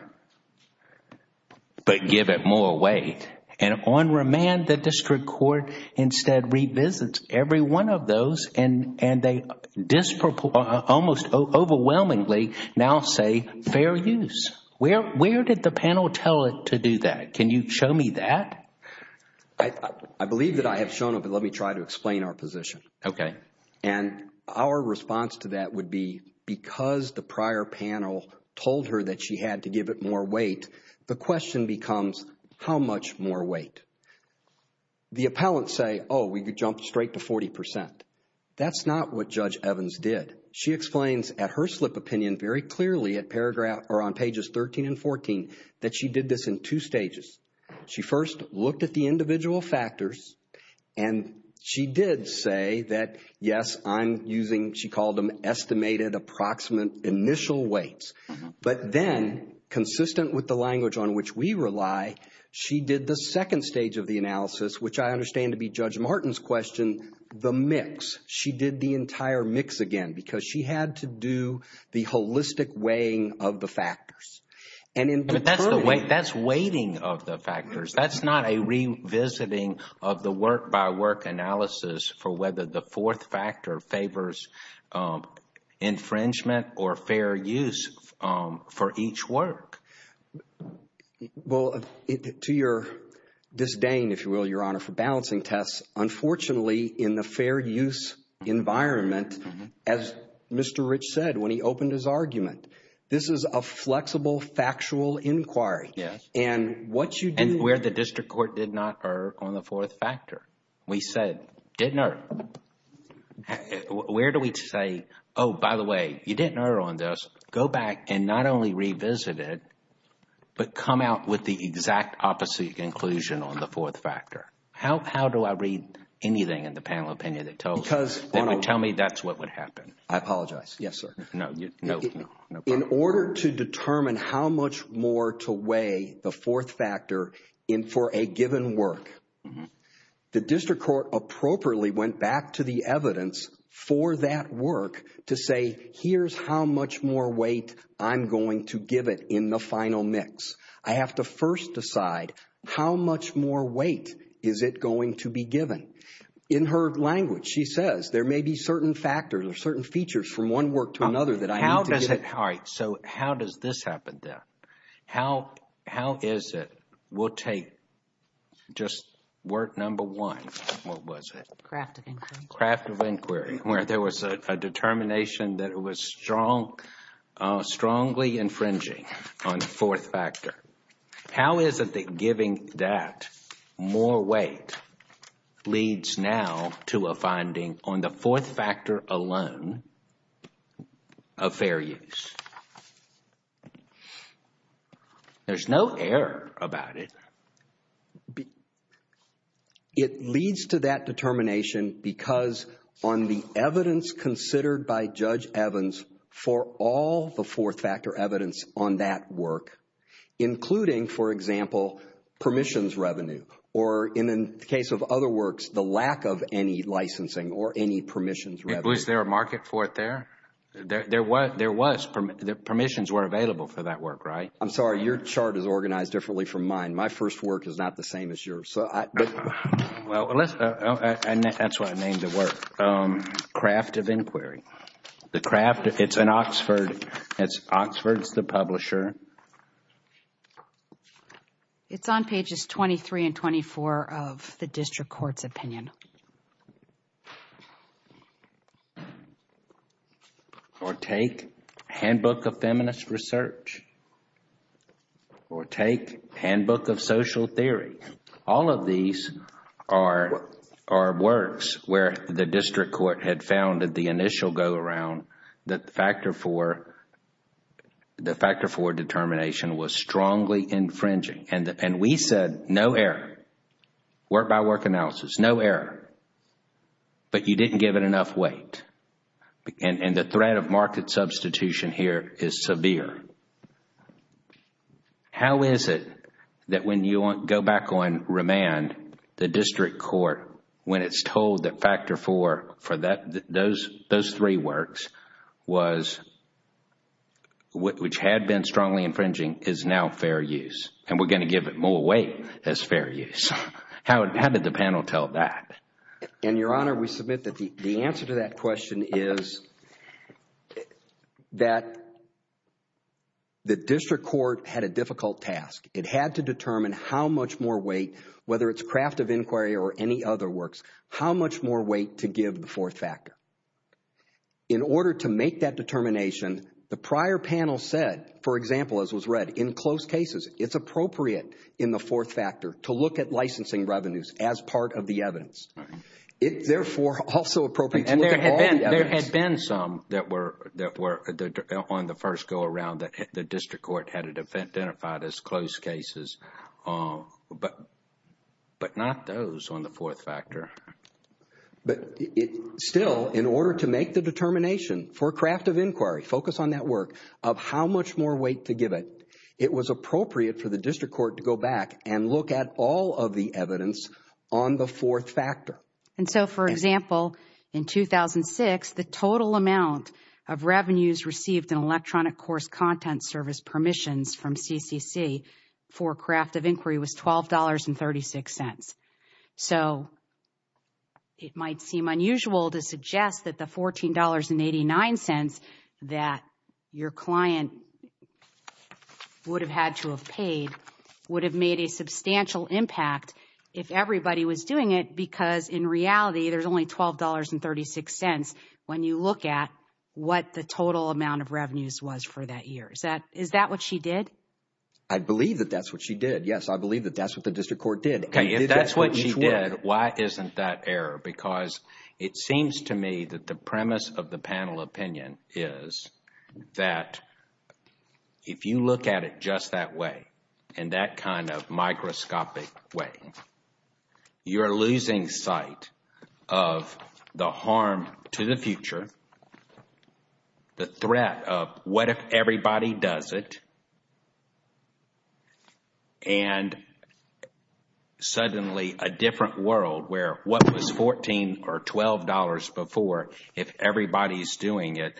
But give it more weight and on remand that district court instead revisits every one of those and and they Disproportionally almost overwhelmingly now say fair use where where did the panel tell it to do that? Can you show me that? I believe that I have shown up and let me try to explain our position Okay And our response to that would be because the prior panel told her that she had to give it more weight The question becomes how much more weight? The appellants say oh we could jump straight to 40% That's not what judge Evans did she explains at her slip opinion very clearly at paragraph or on pages 13 and 14 That she did this in two stages. She first looked at the individual factors and She did say that yes, I'm using she called them estimated approximate initial weights but then Consistent with the language on which we rely. She did the second stage of the analysis, which I understand to be judge Martin's question the mix she did the entire mix again because she had to do the holistic weighing of the factors and That's the way that's waiting of the factors. That's not a Revisiting of the work-by-work analysis for whether the fourth factor favors Infringement or fair use for each work Well to your Disdain, if you will your honor for balancing tests, unfortunately in the fair use Environment as Mr. Rich said when he opened his argument This is a flexible factual inquiry Yes, and what you didn't wear the district court did not err on the fourth factor. We said didn't hurt Where do we say? Oh, by the way, you didn't know her on this go back and not only revisit it But come out with the exact opposite conclusion on the fourth factor How do I read anything in the panel opinion that tells tell me that's what would happen. I apologize. Yes, sir In order to determine how much more to weigh the fourth factor in for a given work The district court appropriately went back to the evidence for that work to say here's how much more weight I'm going to give it in the final mix I have to first decide how much more weight is it going to be given in her language? She says there may be certain factors or certain features from one work to another that I how does it heart? So, how does this happen death? How how is it? We'll take Just work number one. What was it? Craft of inquiry where there was a determination that it was strong Strongly infringing on the fourth factor. How is it that giving that? more weight Leads now to a finding on the fourth factor alone of fair use There's no error about it It leads to that determination Because on the evidence considered by judge Evans for all the fourth factor evidence on that work including for example Permissions revenue or in the case of other works the lack of any licensing or any permissions Was there a market for it there? There was there was from the permissions were available for that work, right? I'm sorry Your chart is organized differently from mine. My first work is not the same as yours. So I well That's why I named it work Craft of inquiry the craft. It's an Oxford. That's Oxford's the publisher It's on pages 23 and 24 of the district court's opinion Or take handbook of feminist research Or take handbook of social theory all of these are Our works where the district court had found that the initial go-around that the factor for The factor for determination was strongly infringing and and we said no error work by work analysis no error But you didn't give it enough weight And and the threat of market substitution here is severe How is it that when you want go back on remand the district court when it's told that factor for for that those those three works was What which had been strongly infringing is now fair use and we're going to give it more weight as fair use How did the panel tell that in your honor? We submit that the answer to that question is That The district court had a difficult task it had to determine how much more weight Whether it's craft of inquiry or any other works how much more weight to give the fourth factor In order to make that determination the prior panel said for example as was read in close cases It's appropriate in the fourth factor to look at licensing revenues as part of the evidence it therefore also appropriate and there had been some that were that were On the first go-around that the district court had a defense identified as close cases but But not those on the fourth factor But Still in order to make the determination for craft of inquiry focus on that work of how much more weight to give it It was appropriate for the district court to go back and look at all of the evidence on the fourth factor and so for example in 2006 the total amount of revenues received an electronic course content service permissions from CCC for craft of inquiry was $12 and 36 cents, so It might seem unusual to suggest that the $14 and 89 cents that your client Would have had to have paid would have made a substantial impact if everybody was doing it because in reality There's only $12 and 36 cents when you look at what the total amount of revenues was for that year Is that is that what she did? I believe that that's what she did. Yes I believe that that's what the district court did and if that's what she did why isn't that error because it seems to me that the premise of the panel opinion is that If you look at it just that way and that kind of microscopic way you're losing sight of the harm to the future The threat of what if everybody does it and Suddenly a different world where what was 14 or $12 before if everybody's doing it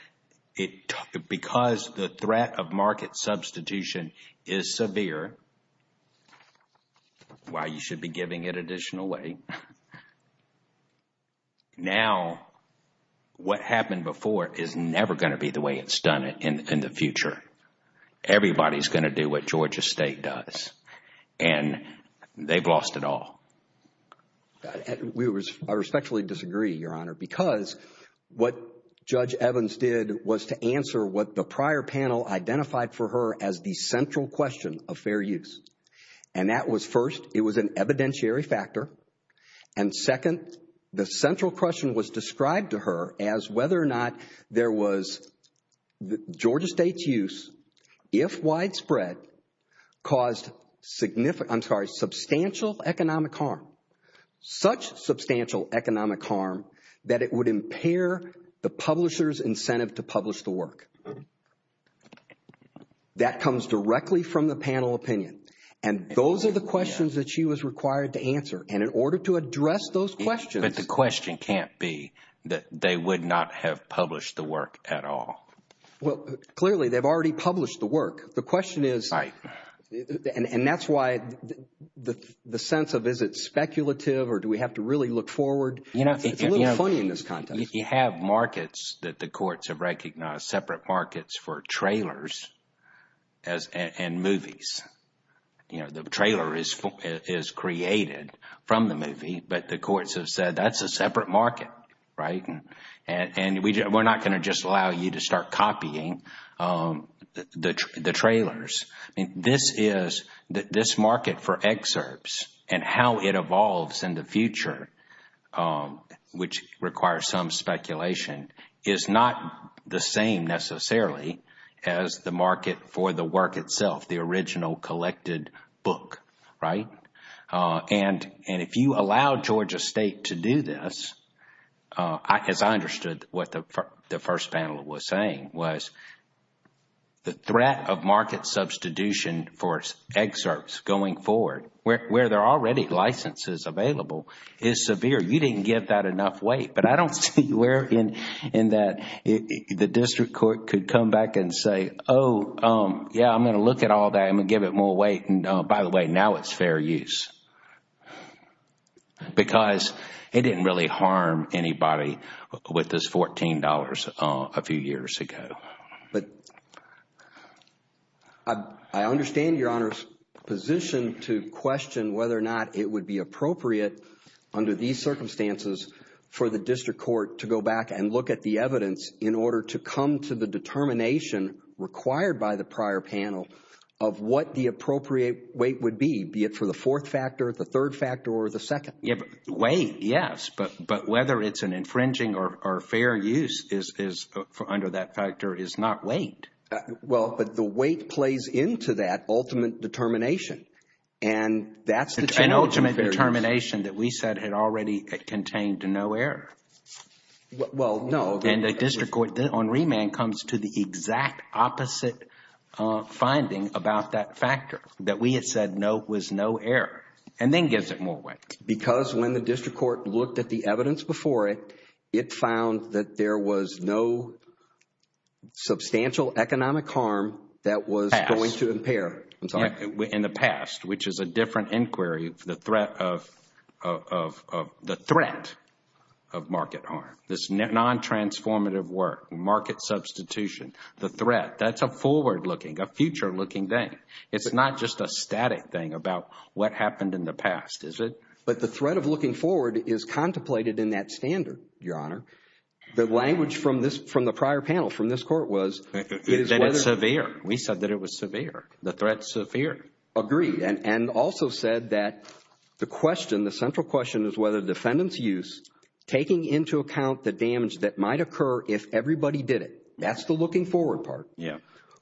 It because the threat of market substitution is severe Why you should be giving it additional weight Now What happened before is never going to be the way it's done it in the future Everybody's going to do what Georgia State does and They've lost it all We respectfully disagree your honor because What judge Evans did was to answer what the prior panel? identified for her as the central question of fair use and that was first it was an evidentiary factor and second the central question was described to her as whether or not there was Georgia State's use if widespread caused Significant. I'm sorry substantial economic harm Such substantial economic harm that it would impair the publishers incentive to publish the work That comes directly from the panel opinion and Those are the questions that she was required to answer and in order to address those questions But the question can't be that they would not have published the work at all Well, clearly they've already published the work. The question is right and that's why The the sense of is it speculative or do we have to really look forward? You know, if you have markets that the courts have recognized separate markets for trailers as and movies You know the trailer is Created from the movie, but the courts have said that's a separate market, right? And and we just we're not going to just allow you to start copying The trailers and this is that this market for excerpts and how it evolves in the future which requires some speculation is not the same necessarily as The market for the work itself the original collected book, right? and and if you allow Georgia State to do this, I guess I understood what the first panel was saying was the threat of market substitution For excerpts going forward where they're already licenses available is severe You didn't get that enough weight, but I don't see where in in that The district court could come back and say oh, yeah, I'm going to look at all that I'm gonna give it more weight and by the way now, it's fair use Because it didn't really harm anybody with this $14 a few years ago, but I Understand your honor's Position to question whether or not it would be appropriate Under these circumstances for the district court to go back and look at the evidence in order to come to the determination required by the prior panel of What the appropriate weight would be be it for the fourth factor the third factor or the second way? Yes, but but whether it's an infringing or fair use is Under that factor is not wait well, but the weight plays into that ultimate determination and That's an ultimate determination that we said had already contained to no error Well, no, then the district court did on remand comes to the exact opposite finding about that factor that we had said no was no error and then gives it more weight because when the district court looked at The evidence before it it found that there was no Substantial economic harm that was going to impair In the past which is a different inquiry the threat of the threat of Market harm this net non transformative work market substitution the threat. That's a forward-looking a future-looking thing It's not just a static thing about what happened in the past Is it but the threat of looking forward is contemplated in that standard your honor? the language from this from the prior panel from this court was Severe we said that it was severe the threats of fear agreed and and also said that The question the central question is whether defendants use Taking into account the damage that might occur if everybody did it. That's the looking forward part. Yeah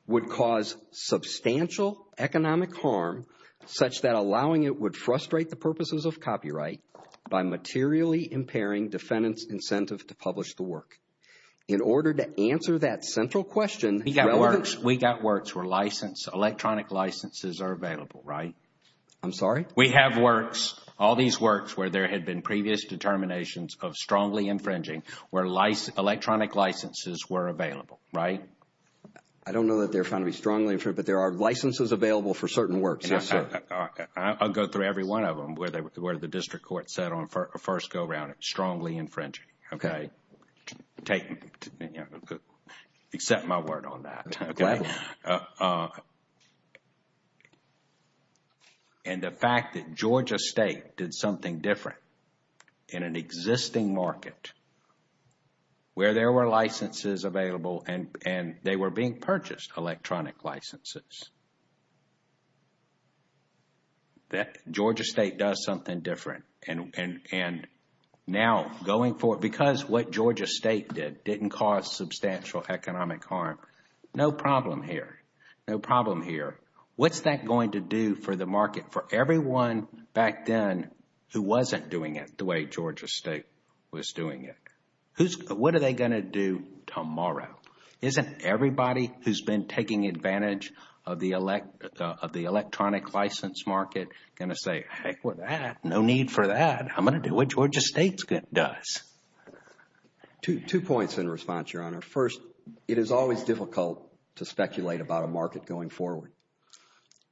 would cause substantial economic harm Such that allowing it would frustrate the purposes of copyright by materially impairing defendants incentive to publish the work In order to answer that central question he got works we got works were licensed electronic licenses are available, right? I'm sorry We have works all these works where there had been previous determinations of strongly infringing where life Electronic licenses were available, right? I don't know that they're trying to be strongly true, but there are licenses available for certain works Yes, sir. I'll go through every one of them where they were the district court set on first go around it strongly infringing. Okay taking Accept my word on that And the fact that Georgia State did something different in an existing market Where there were licenses available and and they were being purchased electronic licenses That Georgia State does something different and and and Now going forward because what Georgia State did didn't cause substantial economic harm. No problem here No problem here. What's that going to do for the market for everyone back then? Who wasn't doing it the way Georgia State was doing it? Who's what are they going to do tomorrow? Isn't everybody who's been taking advantage of the elect of the electronic license market gonna say? No need for that I'm gonna do what Georgia State's good does To two points in response your honor first. It is always difficult to speculate about a market going forward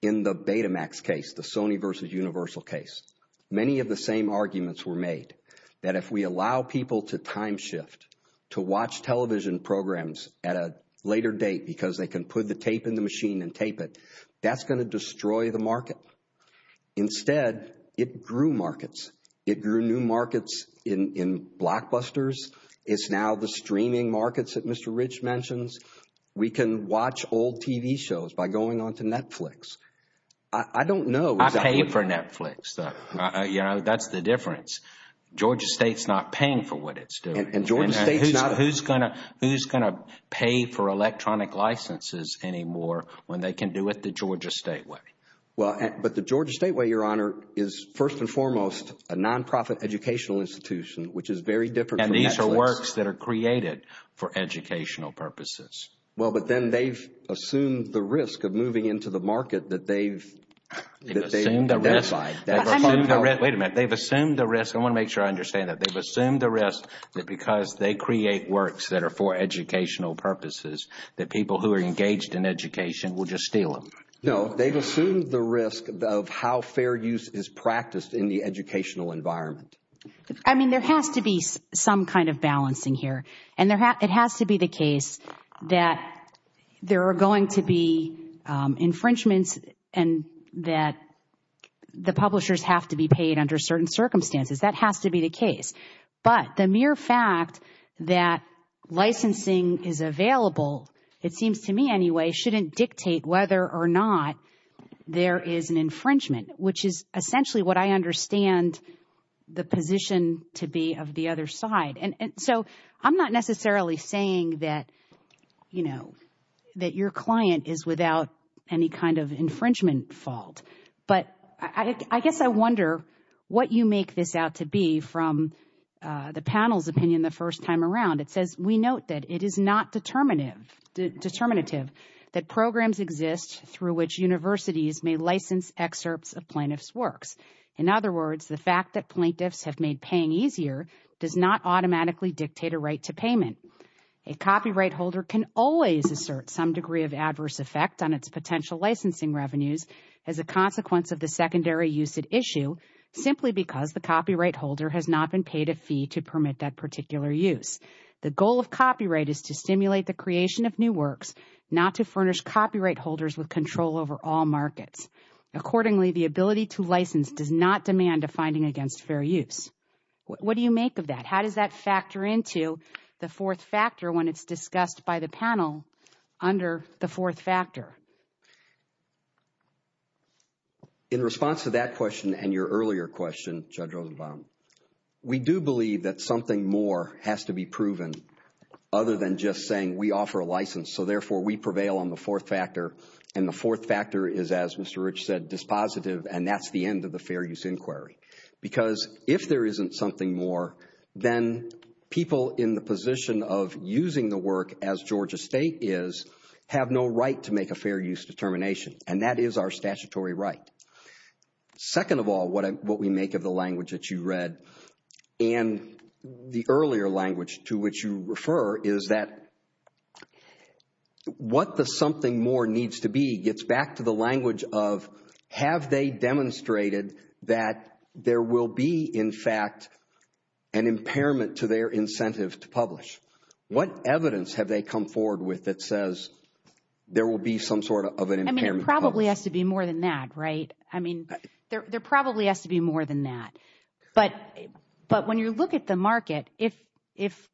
in The Betamax case the Sony versus universal case many of the same arguments were made that if we allow people to time shift to watch television programs at a Later date because they can put the tape in the machine and tape it that's going to destroy the market Instead it grew markets. It grew new markets in Blockbusters, it's now the streaming markets that mr. Rich mentions. We can watch old TV shows by going on to Netflix I don't know. I pay for Netflix though. Yeah, that's the difference Georgia State's not paying for what it's doing and Georgia State's not who's gonna who's gonna pay for Georgia State way. Well, but the Georgia State way your honor is first and foremost a nonprofit educational institution Which is very different and these are works that are created for educational purposes well, but then they've assumed the risk of moving into the market that they've Wait a minute. They've assumed the rest. I want to make sure I understand it They've assumed the rest that because they create works that are for educational purposes That people who are engaged in education will just steal them No, they've assumed the risk of how fair use is practiced in the educational environment I mean there has to be some kind of balancing here and there have it has to be the case that there are going to be infringements and that The publishers have to be paid under certain circumstances that has to be the case but the mere fact that Licensing is available. It seems to me anyway shouldn't dictate whether or not There is an infringement, which is essentially what I understand the position to be of the other side and so I'm not necessarily saying that You know that your client is without any kind of infringement fault But I guess I wonder what you make this out to be from The panel's opinion the first time around it says we note that it is not determinative Determinative that programs exist through which universities may license excerpts of plaintiffs works in other words the fact that plaintiffs have made paying easier does not automatically dictate a right to payment a Copyright holder can always assert some degree of adverse effect on its potential licensing revenues as a consequence of the secondary use at issue Simply because the copyright holder has not been paid a fee to permit that particular use The goal of copyright is to stimulate the creation of new works not to furnish copyright holders with control over all market Accordingly the ability to license does not demand a finding against fair use What do you make of that? How does that factor into the fourth factor when it's discussed by the panel under the fourth factor? In Response to that question and your earlier question judge over We do believe that something more has to be proven Other than just saying we offer a license So therefore we prevail on the fourth factor and the fourth factor is as mr Rich said this positive and that's the end of the fair use inquiry because if there isn't something more then People in the position of using the work as Georgia State is Have no right to make a fair use determination and that is our statutory, right? second of all, what what we make of the language that you read and the earlier language to which you refer is that What the something more needs to be gets back to the language of have they demonstrated that there will be in fact an Impairment to their incentive to publish what evidence have they come forward with that says? There will be some sort of an impairment probably has to be more than that, right? I mean there probably has to be more than that. But but when you look at the market if if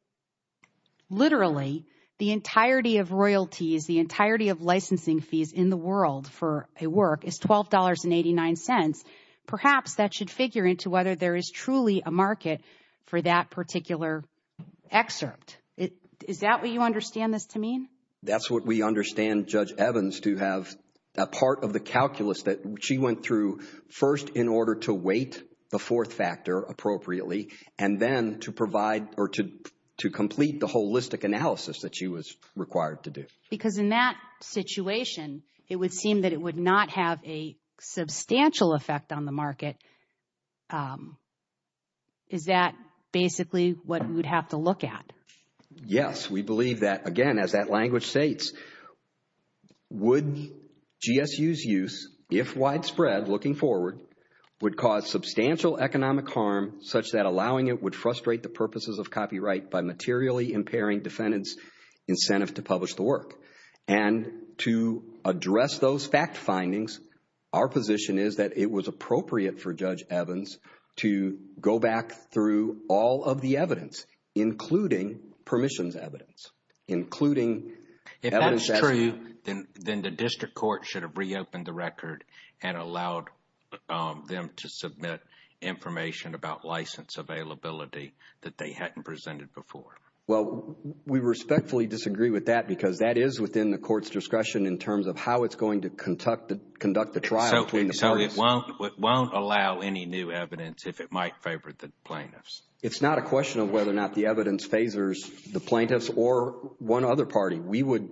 Literally the entirety of royalties the entirety of licensing fees in the world for a work is twelve dollars and eighty nine cents Perhaps that should figure into whether there is truly a market for that particular Excerpt it. Is that what you understand this to mean? That's what we understand judge Evans to have a part of the calculus that she went through first in order to wait the fourth factor appropriately and then to provide or to To complete the holistic analysis that she was required to do because in that situation it would seem that it would not have a market Is that basically what we would have to look at yes, we believe that again as that language states would Gsu's use if widespread looking forward would cause substantial economic harm such that allowing it would frustrate the purposes of copyright by materially impairing defendants incentive to publish the work and To address those fact findings our position is that it was appropriate for judge Evans to Go back through all of the evidence including permissions evidence including Then the district court should have reopened the record and allowed them to submit information about license availability That they hadn't presented before well We respectfully disagree with that because that is within the court's discretion in terms of how it's going to conduct the conduct the trial So it won't won't allow any new evidence if it might favor the plaintiffs It's not a question of whether or not the evidence phasers the plaintiffs or one other party. We would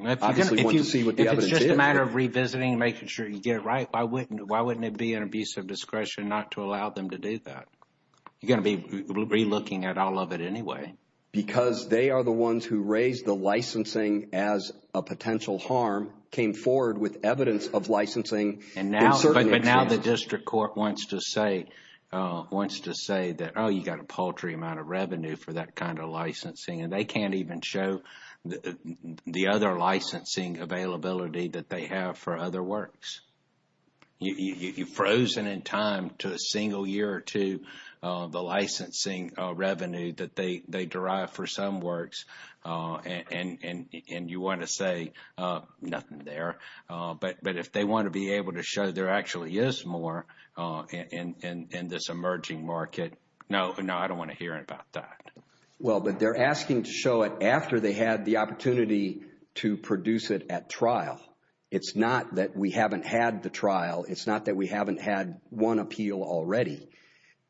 See what the other matter of revisiting making sure you get it, right? I wouldn't why wouldn't it be an abuse of discretion not to allow them to do that? gonna be Relooking at all of it Anyway, because they are the ones who raised the licensing as a potential harm came forward with evidence of licensing And now but now the district court wants to say Wants to say that. Oh, you got a paltry amount of revenue for that kind of licensing and they can't even show the other licensing Availability that they have for other works You've frozen in time to a single year or two The licensing revenue that they they derive for some works And and you want to say? Nothing there, but but if they want to be able to show there actually is more And in this emerging market, no, no, I don't want to hear about that Well, but they're asking to show it after they had the opportunity to produce it at trial It's not that we haven't had the trial. It's not that we haven't had one appeal already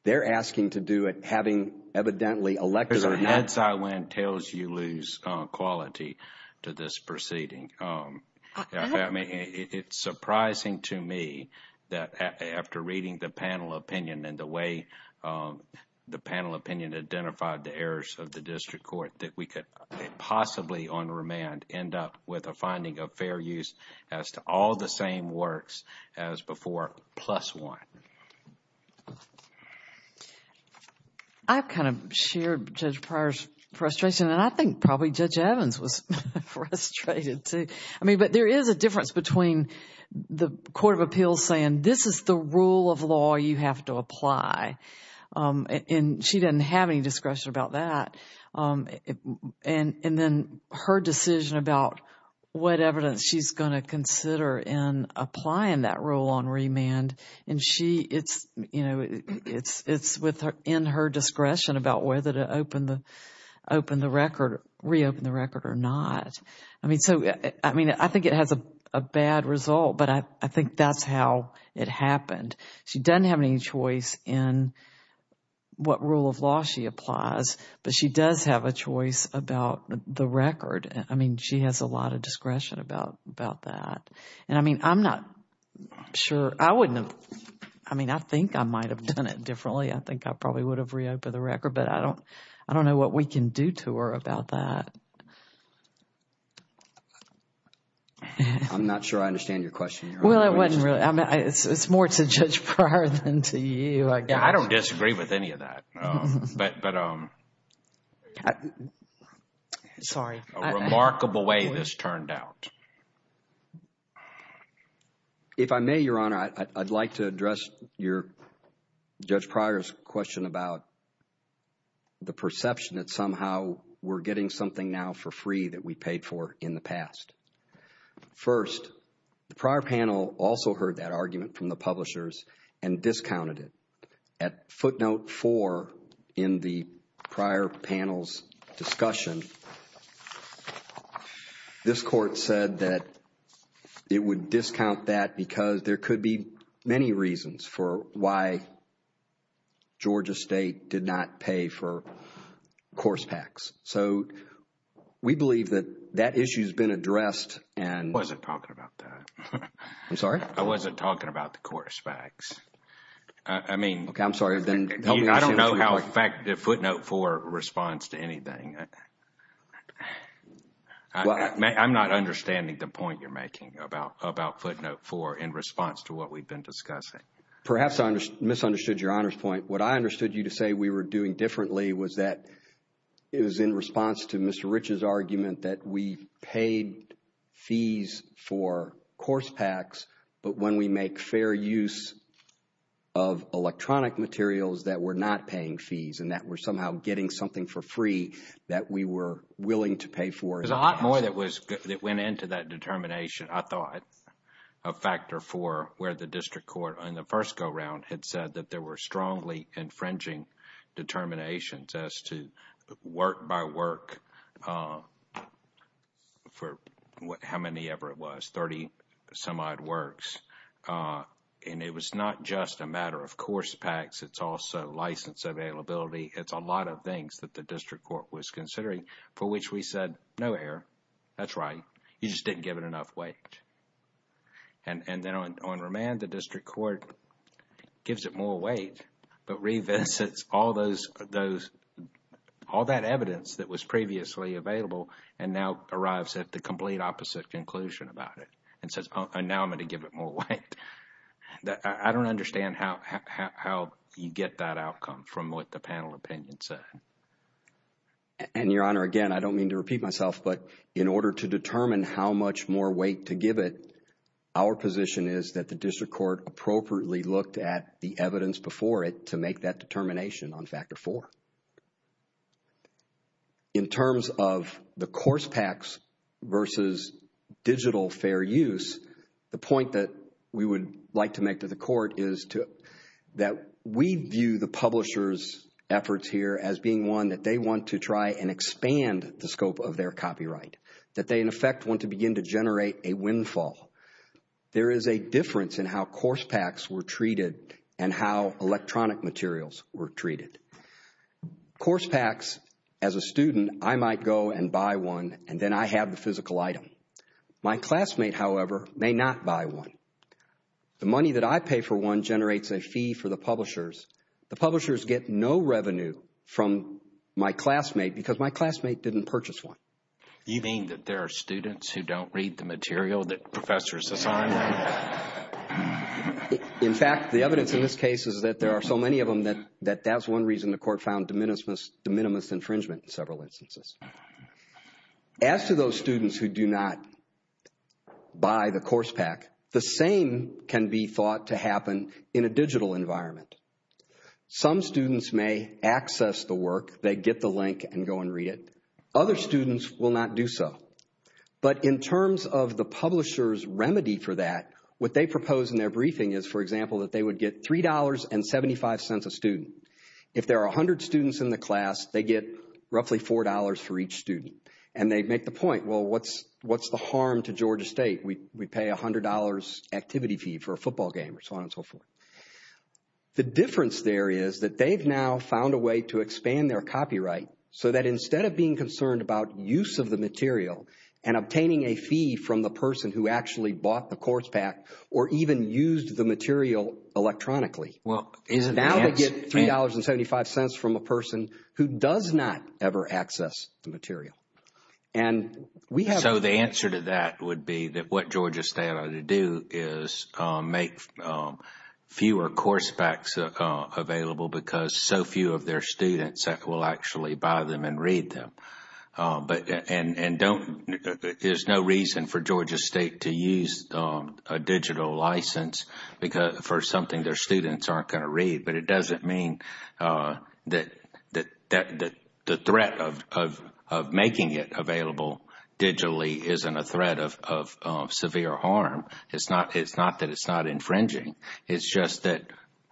They're asking to do it having evidently elected our heads. I went tells you lose quality to this proceeding It's surprising to me that after reading the panel opinion and the way the panel opinion identified the errors of the district court that we could Possibly on remand end up with a finding of fair use as to all the same works as before plus one I've kind of shared just prior frustration and I think probably judge Evans was Frustrated to I mean, but there is a difference between The Court of Appeals saying this is the rule of law you have to apply And she doesn't have any discretion about that and and then her decision about What evidence she's going to consider in applying that rule on remand and she it's you know It's it's with her in her discretion about whether to open the open the record reopen the record or not I mean, so I mean, I think it has a bad result, but I think that's how it happened She doesn't have any choice in What rule of law she applies but she does have a choice about the record I mean, she has a lot of discretion about about that. And I mean, I'm not Sure, I wouldn't I mean, I think I might have done it differently I think I probably would have reopened the record, but I don't I don't know what we can do to her about that I'm not sure. I understand your question. Well, I mean it's more to judge prior than to you I don't disagree with any of that but um Sorry a remarkable way this turned out If I may your honor, I'd like to address your judge prior's question about The perception that somehow we're getting something now for free that we paid for in the past first the prior panel also heard that argument from the publishers and discounted it at footnote four in the prior panel's discussion This court said that It would discount that because there could be many reasons for why Georgia State did not pay for course tax, so We believe that that issue has been addressed and wasn't talking about that. I'm sorry. I wasn't talking about the course facts. I Mean, okay. I'm sorry then. I don't know how effective footnote for response to anything I I'm not understanding the point you're making about about footnote for in response to what we've been discussing Perhaps I just misunderstood your honor's point what I understood you to say we were doing differently was that It was in response to mr. Rich's argument that we paid fees for course packs, but when we make fair use of We were willing to pay for the hot boy that was it went into that determination I thought a Factor for where the district court on the first go-round had said that there were strongly infringing determinations as to work by work For what how many ever it was 30 some odd works And it was not just a matter of course packs. It's also license availability It's a lot of things that the district court was considering for which we said no error. That's right you just didn't give it enough weight and And then on remand the district court Gives it more weight, but revisit all those those All that evidence that was previously available and now arrives at the complete opposite conclusion about it and says now I'm going to give it more weight That I don't understand how You get that outcome from what the panel opinion said And your honor again, I don't mean to repeat myself But in order to determine how much more weight to give it Our position is that the district court appropriately looked at the evidence before it to make that determination on factor for In terms of the course packs versus Digital fair use the point that we would like to make to the court is to that we view the publishers Efforts here as being one that they want to try and expand the scope of their copyright That they in effect want to begin to generate a windfall There is a difference in how course packs were treated and how electronic materials were treated Course packs as a student. I might go and buy one and then I have the physical item My classmate however may not buy one The money that I pay for one generates a fee for the publishers The publishers get no revenue from my classmate because my classmate didn't purchase one You mean that there are students who don't read the material that professors assign? In fact the evidence in this case is that there are so many of them that that that's one reason the court found diminutiveness the minimus infringement in several instances As to those students who do not Buy the course pack the same can be thought to happen in a digital environment Some students may access the work. They get the link and go and read it other students will not do so But in terms of the publishers remedy for that what they propose in their briefing is for example that they would get three dollars and 75 Cents a student if there are a hundred students in the class, they get roughly four dollars for each student and they'd make the point Well, what's what's the harm to Georgia State? We pay a hundred dollars activity fee for a football game or so on and so forth The difference there is that they've now found a way to expand their copyright so that instead of being concerned about use of the material and Obtaining a fee from the person who actually bought the course pack or even used the material Electronically well is now to get three dollars and seventy five cents from a person who does not ever access the material and We know the answer to that would be that what Georgia State ought to do is make fewer course packs Available because so few of their students that will actually buy them and read them but and and don't There's no reason for Georgia State to use a digital license Because for something their students aren't going to read but it doesn't mean that that that the threat of Making it available Digitally isn't a threat of severe harm. It's not it's not that it's not infringing it's just that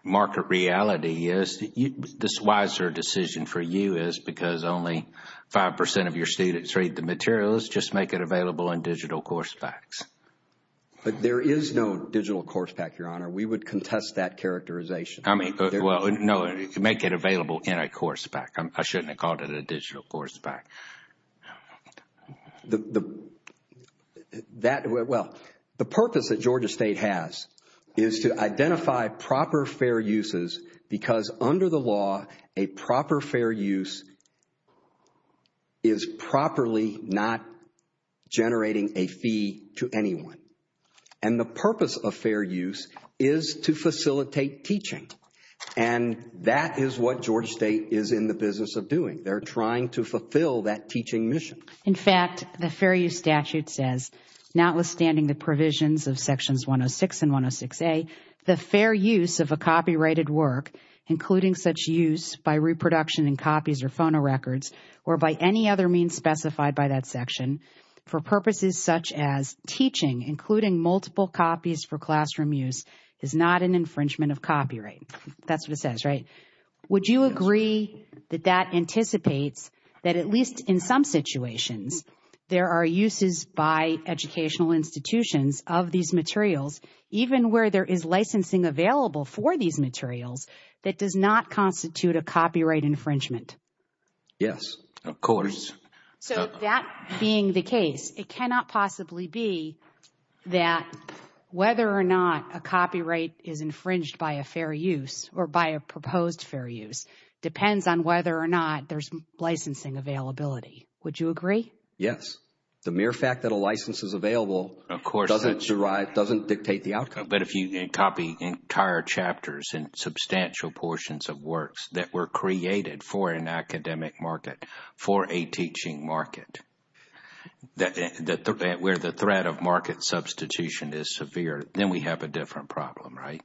market reality is that you this wiser decision for you is because only Five percent of your students read the materials just make it available in digital course facts But there is no digital course back your honor we would contest that characterization I mean, well, you know, you can make it available in a course back. I shouldn't have called it a digital course back The That well the purpose that Georgia State has is to identify proper fair uses because under the law a proper fair use is Properly not Generating a fee to anyone and the purpose of fair use is to facilitate teaching and That is what Georgia State is in the business of doing they're trying to fulfill that teaching mission in fact The fair use statute says notwithstanding the provisions of sections 106 and 106 a the fair use of a copyrighted work Including such use by reproduction and copies or phono records or by any other means specified by that section For purposes such as teaching including multiple copies for classroom use is not an infringement of copyright That's what it says, right? Would you agree that that anticipates that at least in some situations? There are uses by educational institutions of these materials even where there is licensing available for these materials that does not constitute a copyright infringement Yes, of course So that being the case it cannot possibly be that Whether or not a copyright is infringed by a fair use or by a proposed fair use Depends on whether or not there's licensing availability. Would you agree? Yes, the mere fact that a license is available, of course It's arise doesn't dictate the outcome But if you didn't copy entire chapters and substantial portions of works that were created for an academic market for a teaching market That's where the threat of market substitution is severe. Then we have a different problem, right?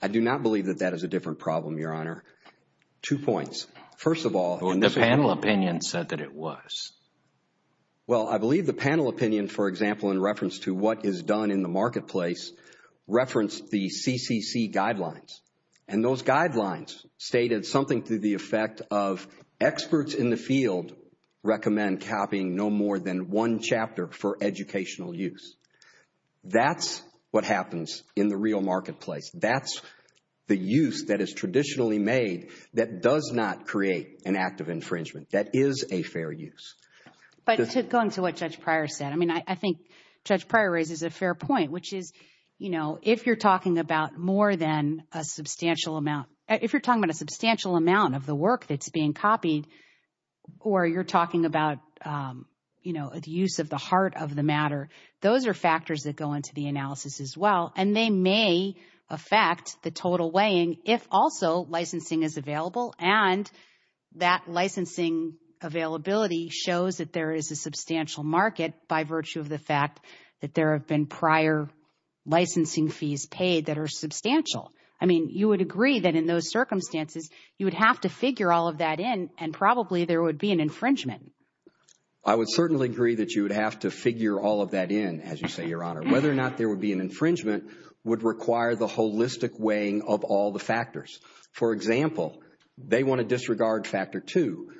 I Do not believe that that is a different problem your honor Two points first of all the panel opinion said that it was Well, I believe the panel opinion for example in reference to what is done in the marketplace referenced the CCC guidelines and those guidelines stated something through the effect of experts in the field Recommend copying no more than one chapter for educational use That's what happens in the real marketplace That's the use that is traditionally made that does not create an act of infringement. That is a fair use But it's going to what judge prior said I mean I think judge prior raises a fair point which is you know if you're talking about more than a Or you're talking about You know at the use of the heart of the matter those are factors that go into the analysis as well and they may affect the total weighing if also licensing is available and that licensing Availability shows that there is a substantial market by virtue of the fact that there have been prior Licensing fees paid that are substantial I mean you would agree that in those circumstances you would have to figure all of that in and probably there would be an infringement. I Would certainly agree that you would have to figure all of that in as you say your honor whether or not there would be an infringement Would require the holistic weighing of all the factors. For example, they want to disregard factor to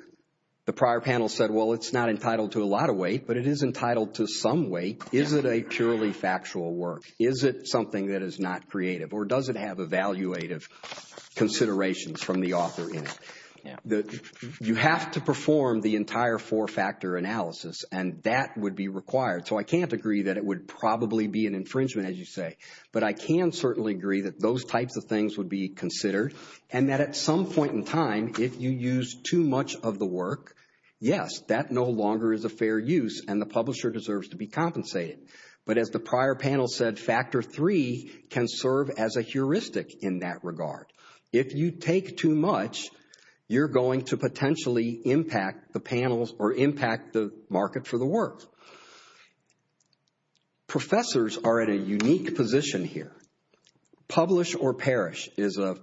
The prior panel said well, it's not entitled to a lot of weight, but it is entitled to some weight Is it a purely factual work is it something that is not creative or does it have evaluative considerations from the author in The you have to perform the entire four-factor analysis and that would be required So I can't agree that it would probably be an infringement as you say But I can certainly agree that those types of things would be considered and that at some point in time If you use too much of the work Yes, that no longer is a fair use and the publisher deserves to be compensated But as the prior panel said factor three can serve as a heuristic in that regard if you take too much You're going to potentially impact the panels or impact the market for the work Professors are at a unique position here publish or perish is a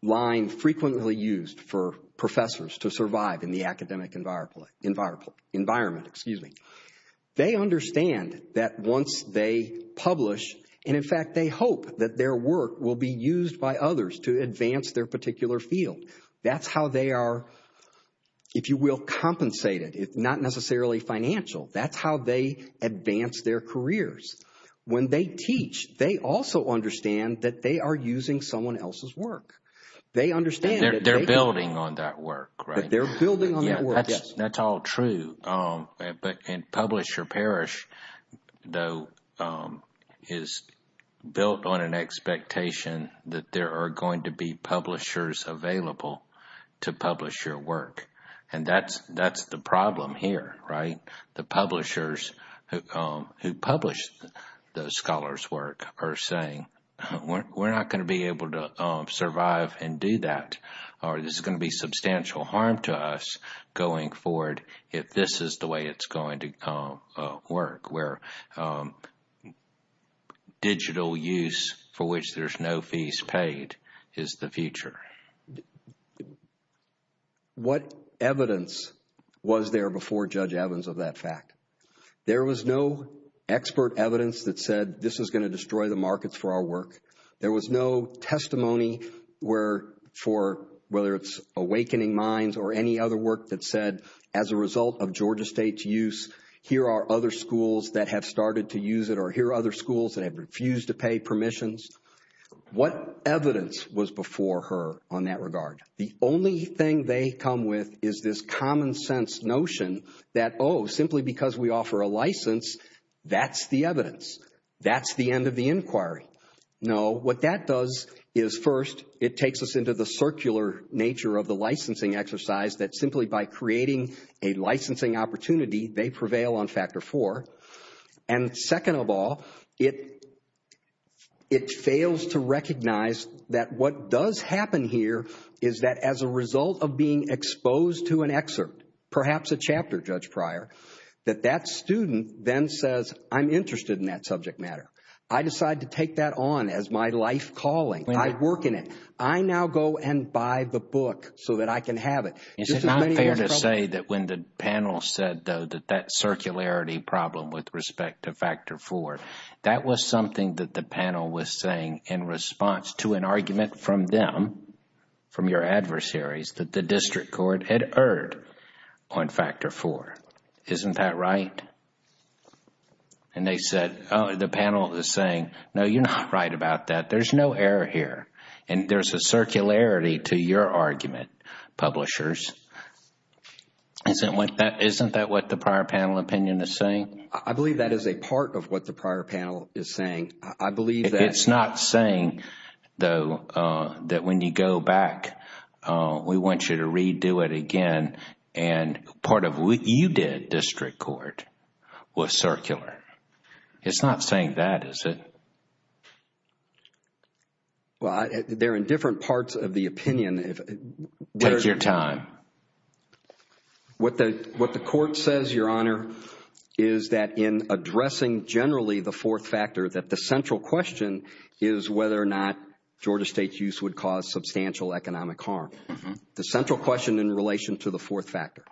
Line frequently used for professors to survive in the academic environment Environment, excuse me They understand that once they publish and in fact They hope that their work will be used by others to advance their particular field. That's how they are If you will compensate it, it's not necessarily financial. That's how they advance their careers When they teach they also understand that they are using someone else's work They understand they're building on that work, right? They're building on that. That's all true but in publish or perish though is built on an Expectation that there are going to be publishers available to publish your work And that's that's the problem here, right the publishers Who publish the scholars work are saying? We're not going to be able to survive and do that All right, this is going to be substantial harm to us going forward if this is the way it's going to come work. We're Digital use for which there's no fees paid is the future What evidence Was there before judge Evans of that fact? There was no Expert evidence that said this was going to destroy the markets for our work. There was no testimony Where for whether it's awakening minds or any other work that said as a result of Georgia State's use Here are other schools that have started to use it or here other schools. They have refused to pay permissions What evidence was before her on that regard? The only thing they come with is this common-sense notion that oh simply because we offer a license That's the evidence. That's the end of the inquiry No what that does is first it takes us into the circular nature of the licensing exercise that simply by creating a licensing opportunity they prevail on factor four and second of all it It fails to recognize that what does happen here is that as a result of being exposed to an excerpt Perhaps a chapter judge prior that that student then says I'm interested in that subject matter I decide to take that on as my life calling and I work in it I now go and buy the book so that I can have it Is it not fair to say that when the panel said though that that? Circularity problem with respect to factor four that was something that the panel was saying in response to an argument from them From your adversaries, but the district court had heard on Factor four, isn't that right? And they said the panel is saying no, you're not right about that There's no error here and there's a circularity to your argument publishers And then once that isn't that what the prior panel opinion is saying I believe that is a part of what the prior panel is saying. I believe it's not saying though That when you go back we want you to redo it again and Part of what you did district court was circular It's not saying that is it? Well, they're in different parts of the opinion if there's your time what the what the court says your honor is that in addressing generally the fourth factor that the central question is Whether or not Georgia State's use would cause substantial economic harm the central question in relation to the fourth factor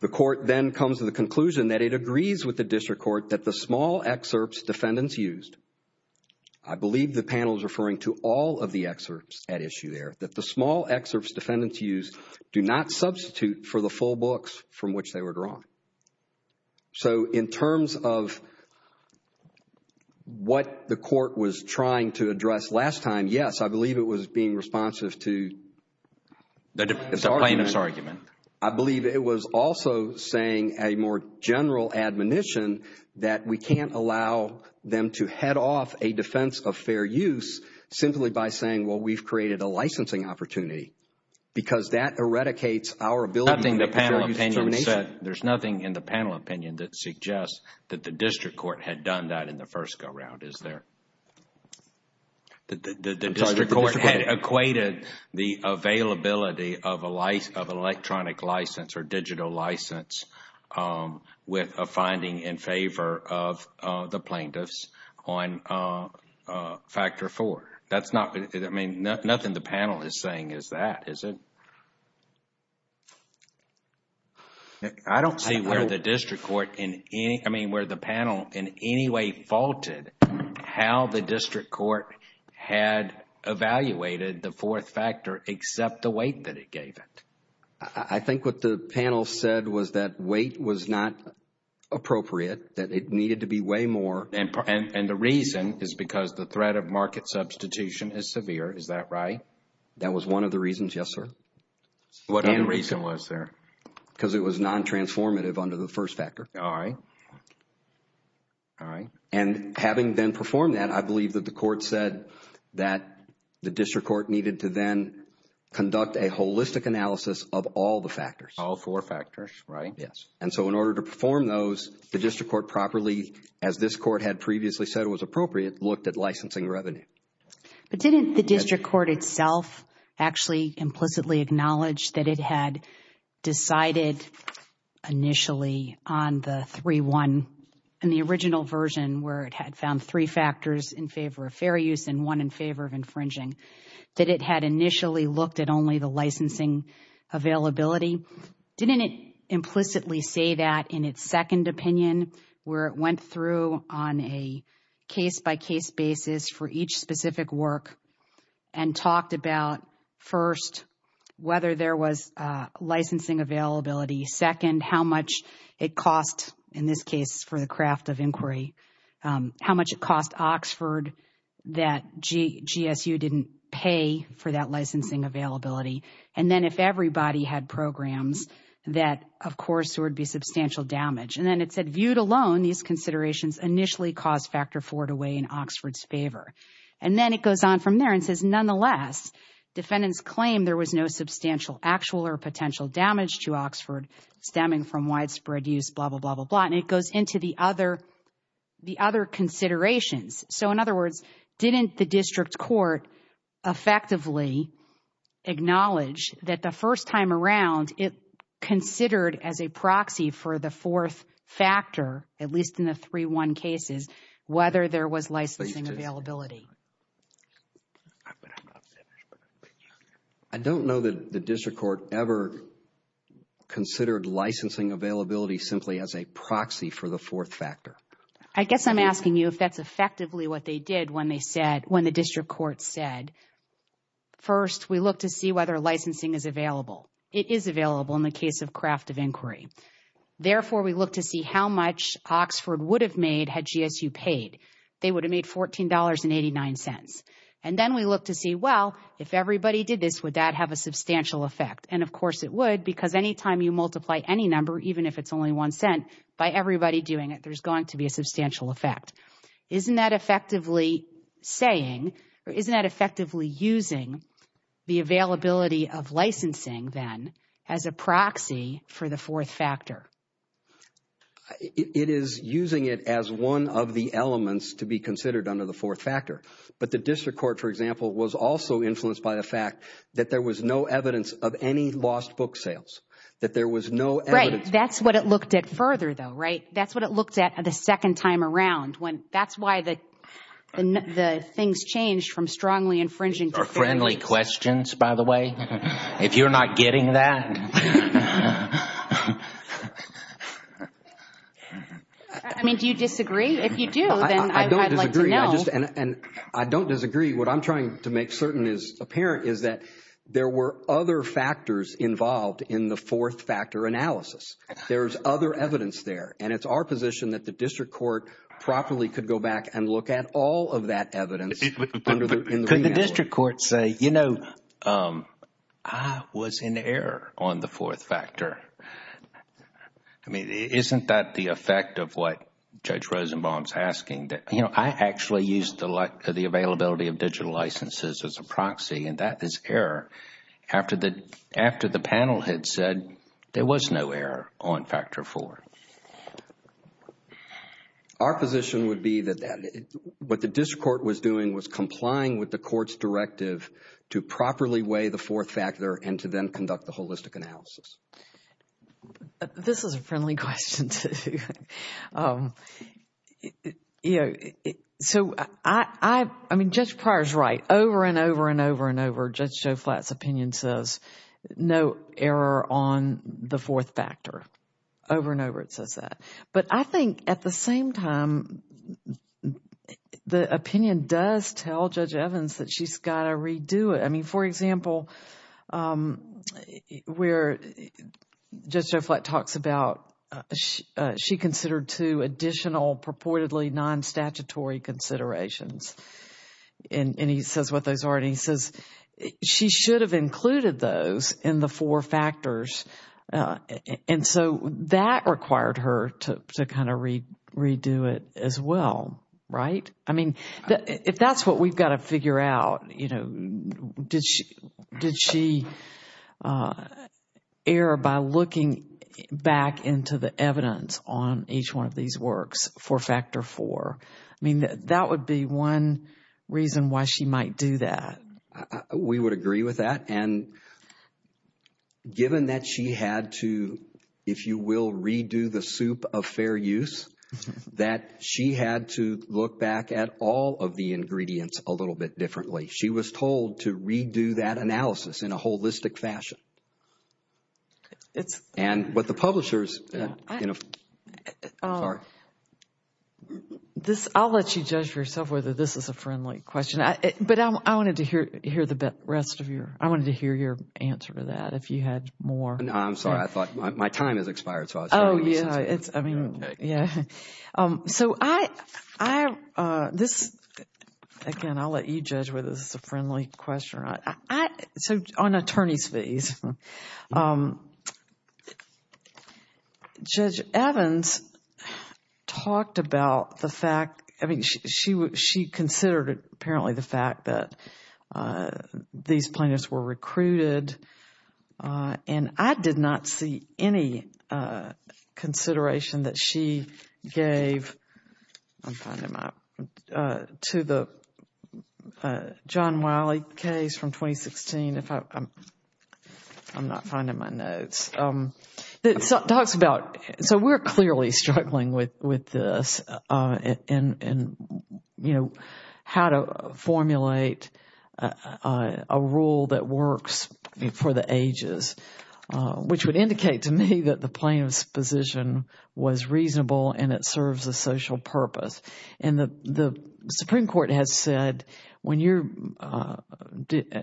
The court then comes to the conclusion that it agrees with the district court that the small excerpts defendants used. I Do not substitute for the full books from which they were drawn. So in terms of What the court was trying to address last time yes, I believe it was being responsive to That it's a plaintiff's argument I believe it was also saying a more general admonition that we can't allow Them to head off a defense of fair use Simply by saying well, we've created a licensing opportunity Because that eradicates our ability the panel opinion said there's nothing in the panel opinion that suggests That the district court had done that in the first go-round, isn't there? The court had equated the availability of a life of electronic license or digital license with a finding in favor of the plaintiffs on Factor four that's not it. I mean nothing the panel is saying is that is it I Don't see where the district court in any I mean where the panel in any way faulted how the district court had Evaluated the fourth factor except the weight that it gave it. I think what the panel said was that weight was not Appropriate that it needed to be way more and the reason is because the threat of market substitution is severe Is that right? That was one of the reasons. Yes, sir What any reason was there because it was non-transformative under the first factor. All right All right, and having been performed that I believe that the court said that the district court needed to then Conduct a holistic analysis of all the factors all four factors, right? Yes And so in order to perform those the district court properly as this court had previously said it was appropriate looked at licensing revenue But didn't the district court itself actually implicitly acknowledged that it had decided initially on the 3-1 In the original version where it had found three factors in favor of fair use and one in favor of infringing That it had initially looked at only the licensing availability didn't it implicitly say that in its second opinion where it went through on a case by case basis for each specific work and talked about first whether there was Licensing availability second how much it cost in this case for the craft of inquiry How much it cost Oxford that? GSU didn't pay for that licensing availability And then if everybody had programs that of course, there would be substantial damage and then it said viewed alone These considerations initially caused factor four to weigh in Oxford's favor and then it goes on from there and says nonetheless Defendants claim there was no substantial actual or potential damage to Oxford stemming from widespread use blah blah blah blah blah And it goes into the other the other Considerations. So in other words didn't the district court effectively Acknowledge that the first time around it Considered as a proxy for the fourth factor at least in the 3-1 cases whether there was licensing availability I Don't know that the district court ever Considered licensing availability simply as a proxy for the fourth factor I guess I'm asking you if that's effectively what they did when they said when the district court said First we look to see whether licensing is available. It is available in the case of craft of inquiry Therefore we look to see how much Oxford would have made had GSU paid They would have made $14.89 and then we look to see well if everybody did this Would that have a substantial effect? And of course it would because anytime you multiply any number even if it's only one cent by everybody doing it There's going to be a substantial effect Isn't that effectively? Saying isn't that effectively using The availability of licensing then as a proxy for the fourth factor It is using it as one of the elements to be considered under the fourth factor But the district court for example was also influenced by the fact that there was no evidence of any lost book sales That there was no right. That's what it looked at further though, right? that's what it looked at the second time around when that's why the And the things changed from strongly infringing or friendly questions, by the way, if you're not getting that I Mean do you disagree if you do? And I don't disagree what I'm trying to make certain is apparent is that there were other factors involved in the fourth factor Analysis, there's other evidence there and it's our position that the district court Properly could go back and look at all of that evidence Could the district court say, you know, I was in error on the fourth factor. I Mean, isn't that the effect of what judge Rosenbaum's asking? You know, I actually used to like to the availability of digital licenses as a proxy and that is error After the after the panel had said there was no error on factor four Our position would be that What the district court was doing was complying with the court's directive to properly weigh the fourth factor and to then conduct the holistic analysis This is a friendly question You know, so I I mean just prior is right over and over and over and over just Joe flats opinion says No error on the fourth factor over and over it says that but I think at the same time The opinion does tell judge Evans that she's got to redo it. I mean, for example We're just just like talks about She considered to additional purportedly non statutory considerations And he says what those are and he says she should have included those in the four factors And so that required her to kind of read redo it as well Right. I mean if that's what we've got to figure out, you know Did she did she? Error by looking Back into the evidence on each one of these works for factor four. I mean that that would be one reason why she might do that we would agree with that and Given that she had to if you will redo the soup of fair use That she had to look back at all of the ingredients a little bit differently She was told to redo that analysis in a holistic fashion It's and what the publishers, you know This I'll let you judge yourself whether this is a friendly question I but I wanted to hear hear the rest of your I wanted to hear your answer to that if you had more No, I'm sorry. I thought my time has expired. Oh, yeah Yeah so I This Again, I'll let you judge whether this is a friendly question, right? So on attorney's leave Judge Evans Talked about the fact. I mean she would she considered apparently the fact that These plaintiffs were recruited And I did not see any Consideration that she gave To the John Wiley case from 2016 if I I'm not finding my notes It talks about so we're clearly struggling with with this and You know how to formulate a rule that works for the ages which would indicate to me that the plaintiff's position was reasonable and it serves a social purpose and the Supreme Court has said when you're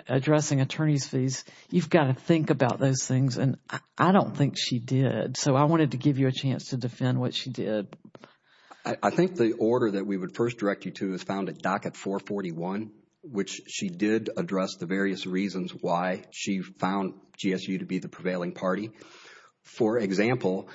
Addressing attorney's fees. You've got to think about those things and I don't think she did So I wanted to give you a chance to defend what she did. I Think the order that we would first direct you to is found at docket 441 which she did address the various reasons why she found GSU to be the prevailing party for example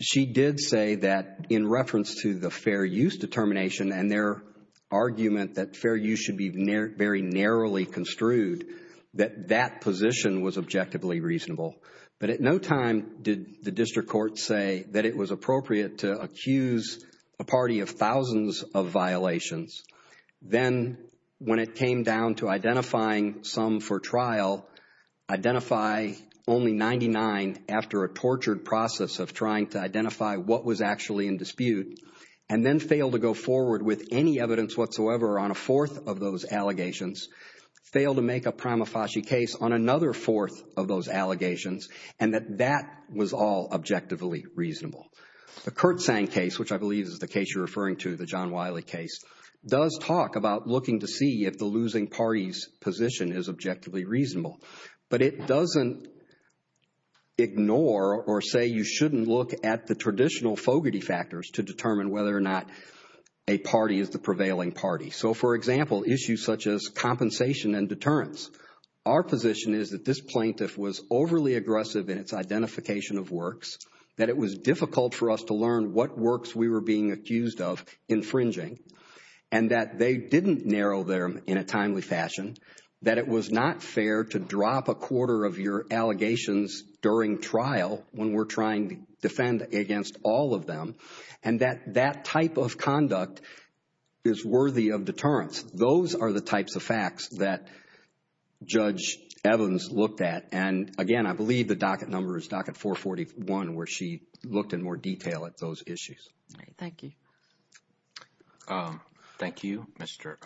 She did say that in reference to the fair use determination and their Argument that fair you should be very narrowly construed that that position was objectively reasonable But at no time did the district court say that it was appropriate to accuse a party of thousands of violations Then when it came down to identifying some for trial Identify only 99 after a tortured process of trying to identify what was actually in dispute and Then fail to go forward with any evidence whatsoever on a fourth of those allegations Fail to make a prima facie case on another fourth of those allegations and that that was all objectively reasonable The Kurt sang case which I believe is the case you're referring to the John Wiley case Does talk about looking to see if the losing parties position is objectively reasonable, but it doesn't Ignore or say you shouldn't look at the traditional fogarty factors to determine whether or not a Party is the prevailing party. So for example issues such as compensation and deterrence Our position is that this plaintiff was overly aggressive in its identification of works That it was difficult for us to learn what works we were being accused of Infringing and that they didn't narrow there in a timely fashion That it was not fair to drop a quarter of your allegations During trial when we're trying to defend against all of them and that that type of conduct Is worthy of deterrence. Those are the types of facts that Judge Evans looked at and again, I believe the docket number is docket 441 where she looked in more detail at those issues. Thank you Thank you, mr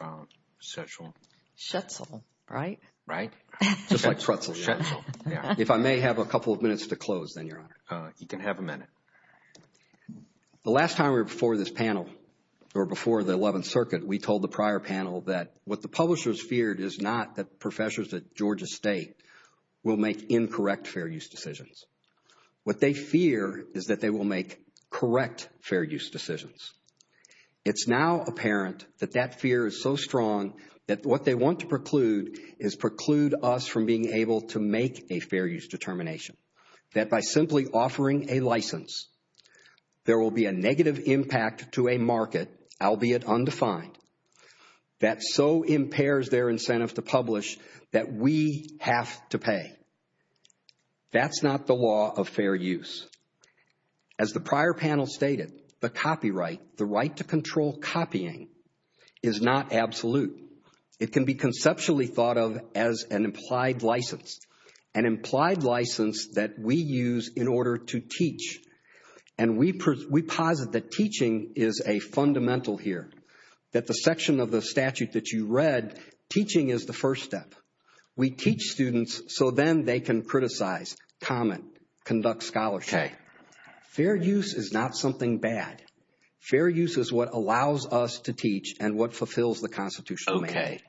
sexual Shuffle, right, right If I may have a couple of minutes to close then you're you can have a minute The last time we were before this panel or before the 11th circuit We told the prior panel that what the publishers feared is not that professors at Georgia State will make incorrect fair use decisions What they fear is that they will make correct fair use decisions It's now apparent that that fear is so strong that what they want to preclude is Preclude us from being able to make a fair use determination that by simply offering a license There will be a negative impact to a market albeit undefined That so impairs their incentive to publish that we have to pay that's not the law of fair use as The prior panel stated the copyright the right to control copying is not absolute it can be conceptually thought of as an implied license an implied license that we use in order to teach and We present we posit that teaching is a fundamental here that the section of the statute that you read Teaching is the first step. We teach students so then they can criticize comment conduct scholar Fair use is not something bad Fair use is what allows us to teach and what fulfills the Constitution. Okay?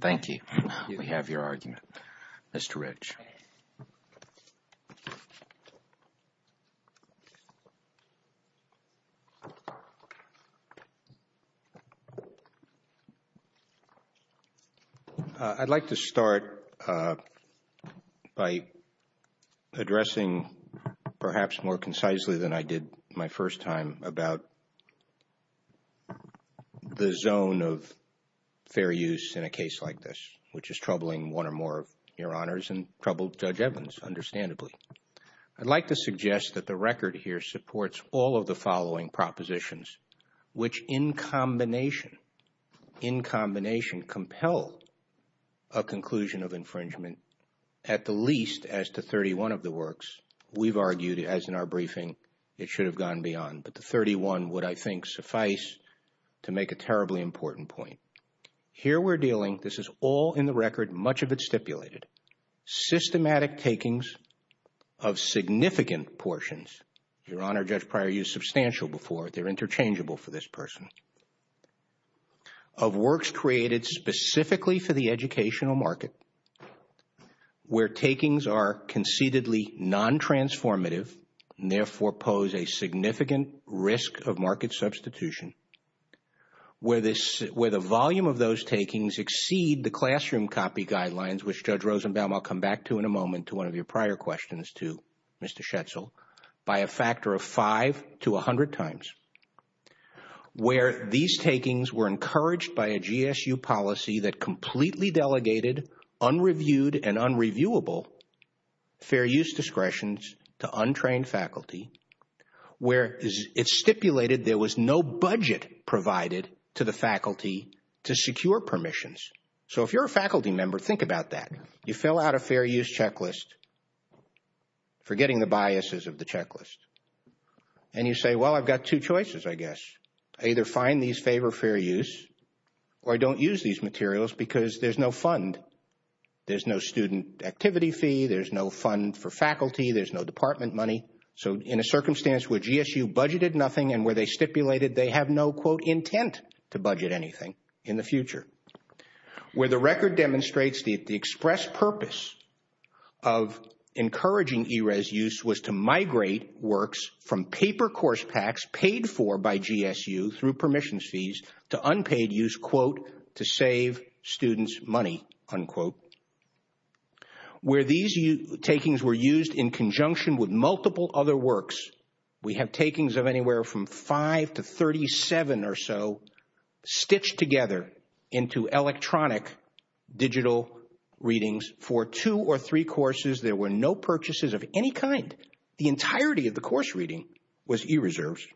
Thank you. We have your argument. Mr. Rich I'd like to start By Addressing perhaps more concisely than I did my first time about The zone of Fair use in a case like this, which is troubling one or more your honors and troubled judge Evans understandably I'd like to suggest that the record here supports all of the following propositions which in combination in combination compel a As-to-31 of the works we've argued as in our briefing it should have gone beyond but the 31 would I think suffice To make a terribly important point here. We're dealing. This is all in the record much of it stipulated systematic takings of Significant portions your honor judge prior you substantial before they're interchangeable for this person Of works created specifically for the educational market Where takings are concededly non-transformative Therefore pose a significant risk of market substitution Where this with a volume of those takings exceed the classroom copy guidelines, which judge Rosenbaum? I'll come back to in a moment to one of your prior questions to mr. Schatzel by a factor of five to a hundred times Where these takings were encouraged by a GSU policy that completely delegated unreviewed and unreviewable Fair use discretions to untrained faculty Where it's stipulated there was no budget provided to the faculty to secure permissions So if you're a faculty member think about that you fill out a fair use checklist For getting the biases of the checklist and you say well, I've got two choices I guess I either find these favor fair use or I don't use these materials because there's no fund There's no student activity fee. There's no fund for faculty. There's no department money So in a circumstance where GSU budgeted nothing and where they stipulated they have no quote intent to budget anything in the future where the record demonstrates the express purpose of Encouraging e-res use was to migrate works from paper course tax paid for by GSU through permissions fees To unpaid use quote to save students money unquote Where these you takings were used in conjunction with multiple other works We have takings of anywhere from five to thirty seven or so stitched together into electronic digital Readings for two or three courses. There were no purchases of any kind the entirety of the course reading was e-reserves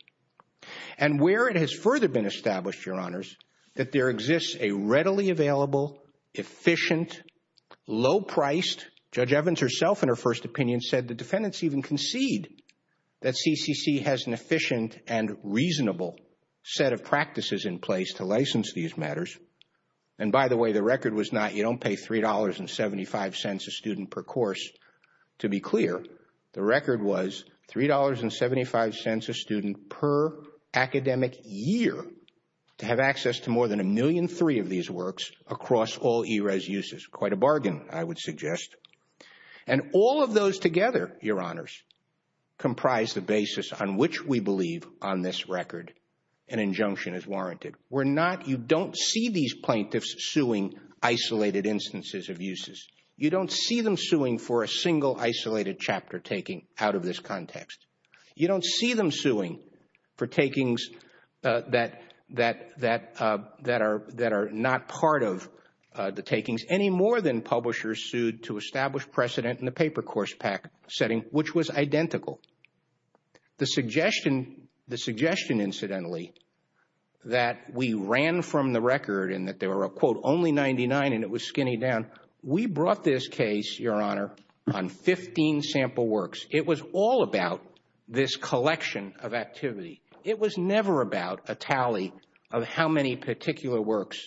and Where it has further been established your honors that there exists a readily available efficient Low-priced judge Evans herself in her first opinion said the defendants even concede that CCC has an efficient and reasonable set of practices in place to license these matters And by the way, the record was not you don't pay three dollars and seventy-five cents a student per course To be clear. The record was three dollars and seventy-five cents a student per academic year To have access to more than a million three of these works across all e-res uses quite a bargain. I would suggest and All of those together your honors comprised the basis on which we believe on this record an Injunction is warranted. We're not you don't see these plaintiffs suing Isolated instances of uses you don't see them suing for a single isolated chapter taking out of this context You don't see them suing for takings that that that that are that are not part of The takings any more than publishers sued to establish precedent in the paper course pack setting which was identical The suggestion the suggestion incidentally That we ran from the record and that there were a quote only 99 and it was skinny down We brought this case your honor on 15 sample works. It was all about this collection of activity It was never about a tally of how many particular works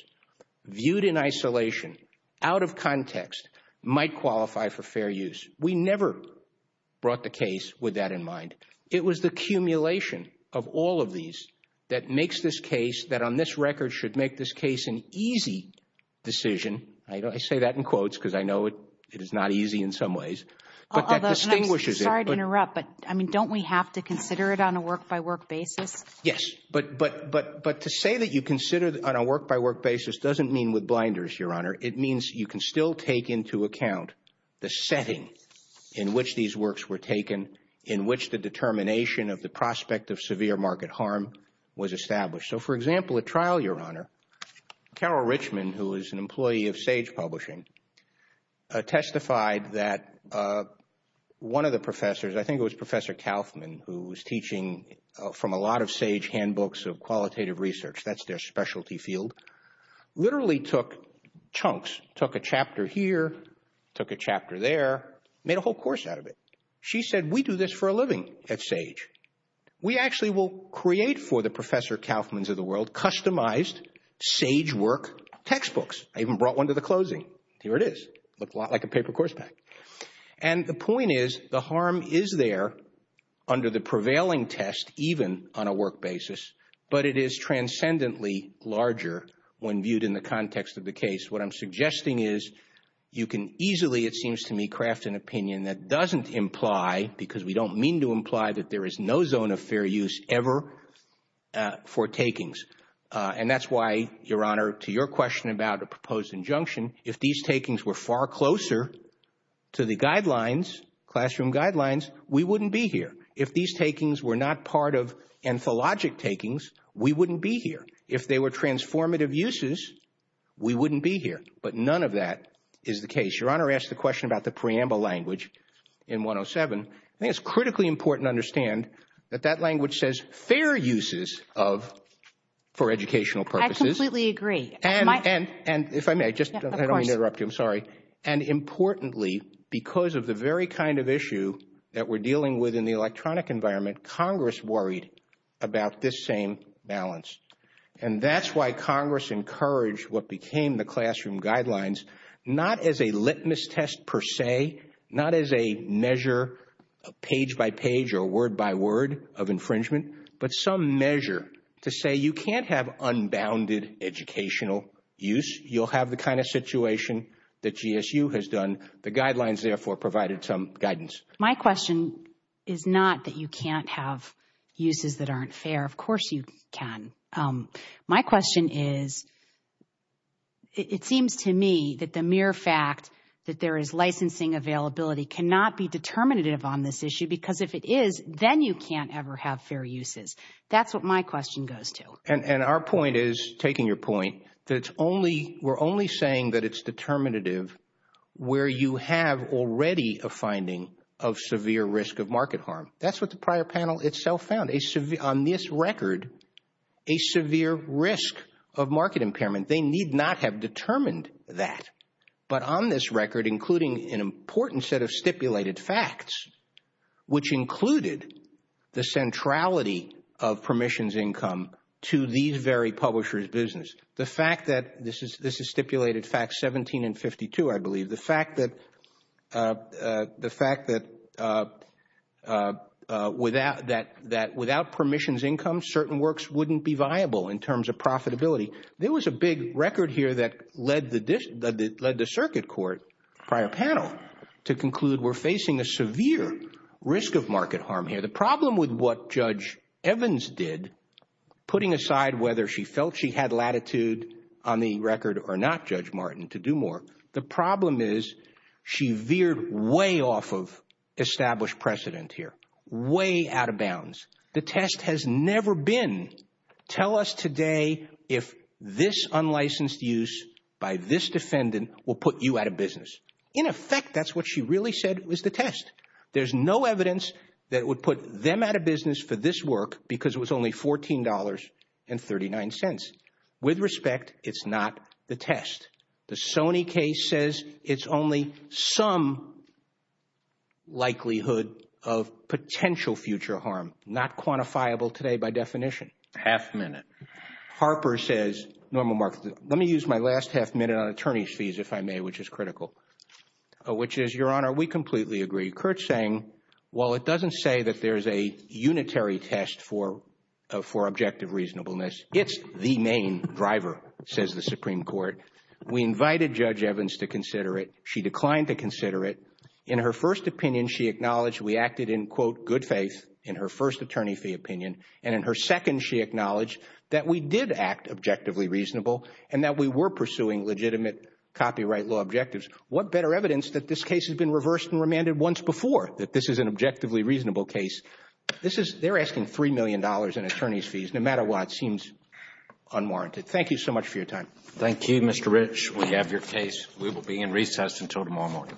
Viewed in isolation out of context might qualify for fair use. We never Brought the case with that in mind It was the accumulation of all of these that makes this case that on this record should make this case an easy Decision, I know I say that in quotes because I know it it is not easy in some ways Distinguishes I'd interrupt but I mean don't we have to consider it on a work-by-work basis. Yes But but but but to say that you consider on a work-by-work basis doesn't mean with blinders your honor It means you can still take into account the setting in which these works were taken in which the Determination of the prospect of severe market harm was established. So for example a trial your honor Carol Richmond who is an employee of sage publishing testified that One of the professors I think it was professor Kaufman who was teaching from a lot of sage handbooks of qualitative research That's their specialty field Literally took chunks took a chapter here took a chapter there made a whole course out of it She said we do this for a living at sage We actually will create for the professor Kaufman's of the world customized sage work Textbooks, I even brought one to the closing. Here it is. Look a lot like a paper course back and The point is the harm is there under the prevailing test even on a work basis, but it is Transcendently larger when viewed in the context of the case what I'm suggesting is you can easily it seems to me craft an opinion That doesn't imply because we don't mean to imply that there is no zone of fair use ever For takings and that's why your honor to your question about a proposed injunction if these takings were far closer To the guidelines classroom guidelines. We wouldn't be here if these takings were not part of Anthologic takings we wouldn't be here if they were transformative uses We wouldn't be here. But none of that is the case your honor asked the question about the preamble language in 107 it's critically important to understand that that language says fair uses of for educational purposes, we agree and and and if I may just interrupt you, I'm sorry and Importantly because of the very kind of issue that we're dealing with in the electronic environment Congress worried About this same balance and that's why Congress encouraged what became the classroom guidelines Not as a litmus test per se not as a measure Page by page or word by word of infringement, but some measure to say you can't have unbounded Educational use you'll have the kind of situation that GSU has done the guidelines therefore provided some guidance My question is not that you can't have uses that aren't fair. Of course you can my question is It seems to me that the mere fact that there is licensing availability Cannot be determinative on this issue because if it is then you can't ever have fair uses That's what my question goes to and and our point is taking your point. That's only we're only saying that it's determinative Where you have already a finding of severe risk of market harm that's what the prior panel itself found a severe on this record a Severe risk of market impairment. They need not have determined that But on this record including an important set of stipulated facts which included the centrality of The fact that this is this is stipulated fact 17 and 52, I believe the fact that the fact that Without that that without permissions income certain works wouldn't be viable in terms of profitability There was a big record here that led the dish that led the circuit court prior panel to conclude We're facing a severe risk of market harm here the problem with what judge Evans did Putting aside whether she felt she had latitude on the record or not judge Martin to do more. The problem is She veered way off of Established precedent here way out of bounds. The test has never been Tell us today if this unlicensed use by this defendant will put you out of business in effect That's what she really said was the test There's no evidence that would put them out of business for this work because it was only $14 and 39 cents with respect. It's not the test. The Sony case says it's only some Likelihood of Potential future harm not quantifiable today by definition half-minute Harper says normal market. Let me use my last half minute on attorneys fees if I may which is critical Which is your honor, we completely agree Kurt saying well, it doesn't say that there's a unitary test for For objective reasonableness. It's the main driver says the Supreme Court We invited judge Evans to consider it. She declined to consider it in her first opinion She acknowledged we acted in quote good faith in her first attorney fee opinion and in her second She acknowledged that we did act objectively reasonable and that we were pursuing legitimate Copyright law objectives what better evidence that this case has been reversed and remanded once before that this is an objectively reasonable case This is they're asking three million dollars in attorneys fees. No matter what seems Unwarranted. Thank you so much for your time. Thank you. Mr. Rich. We have your case. We will be in recess until tomorrow morning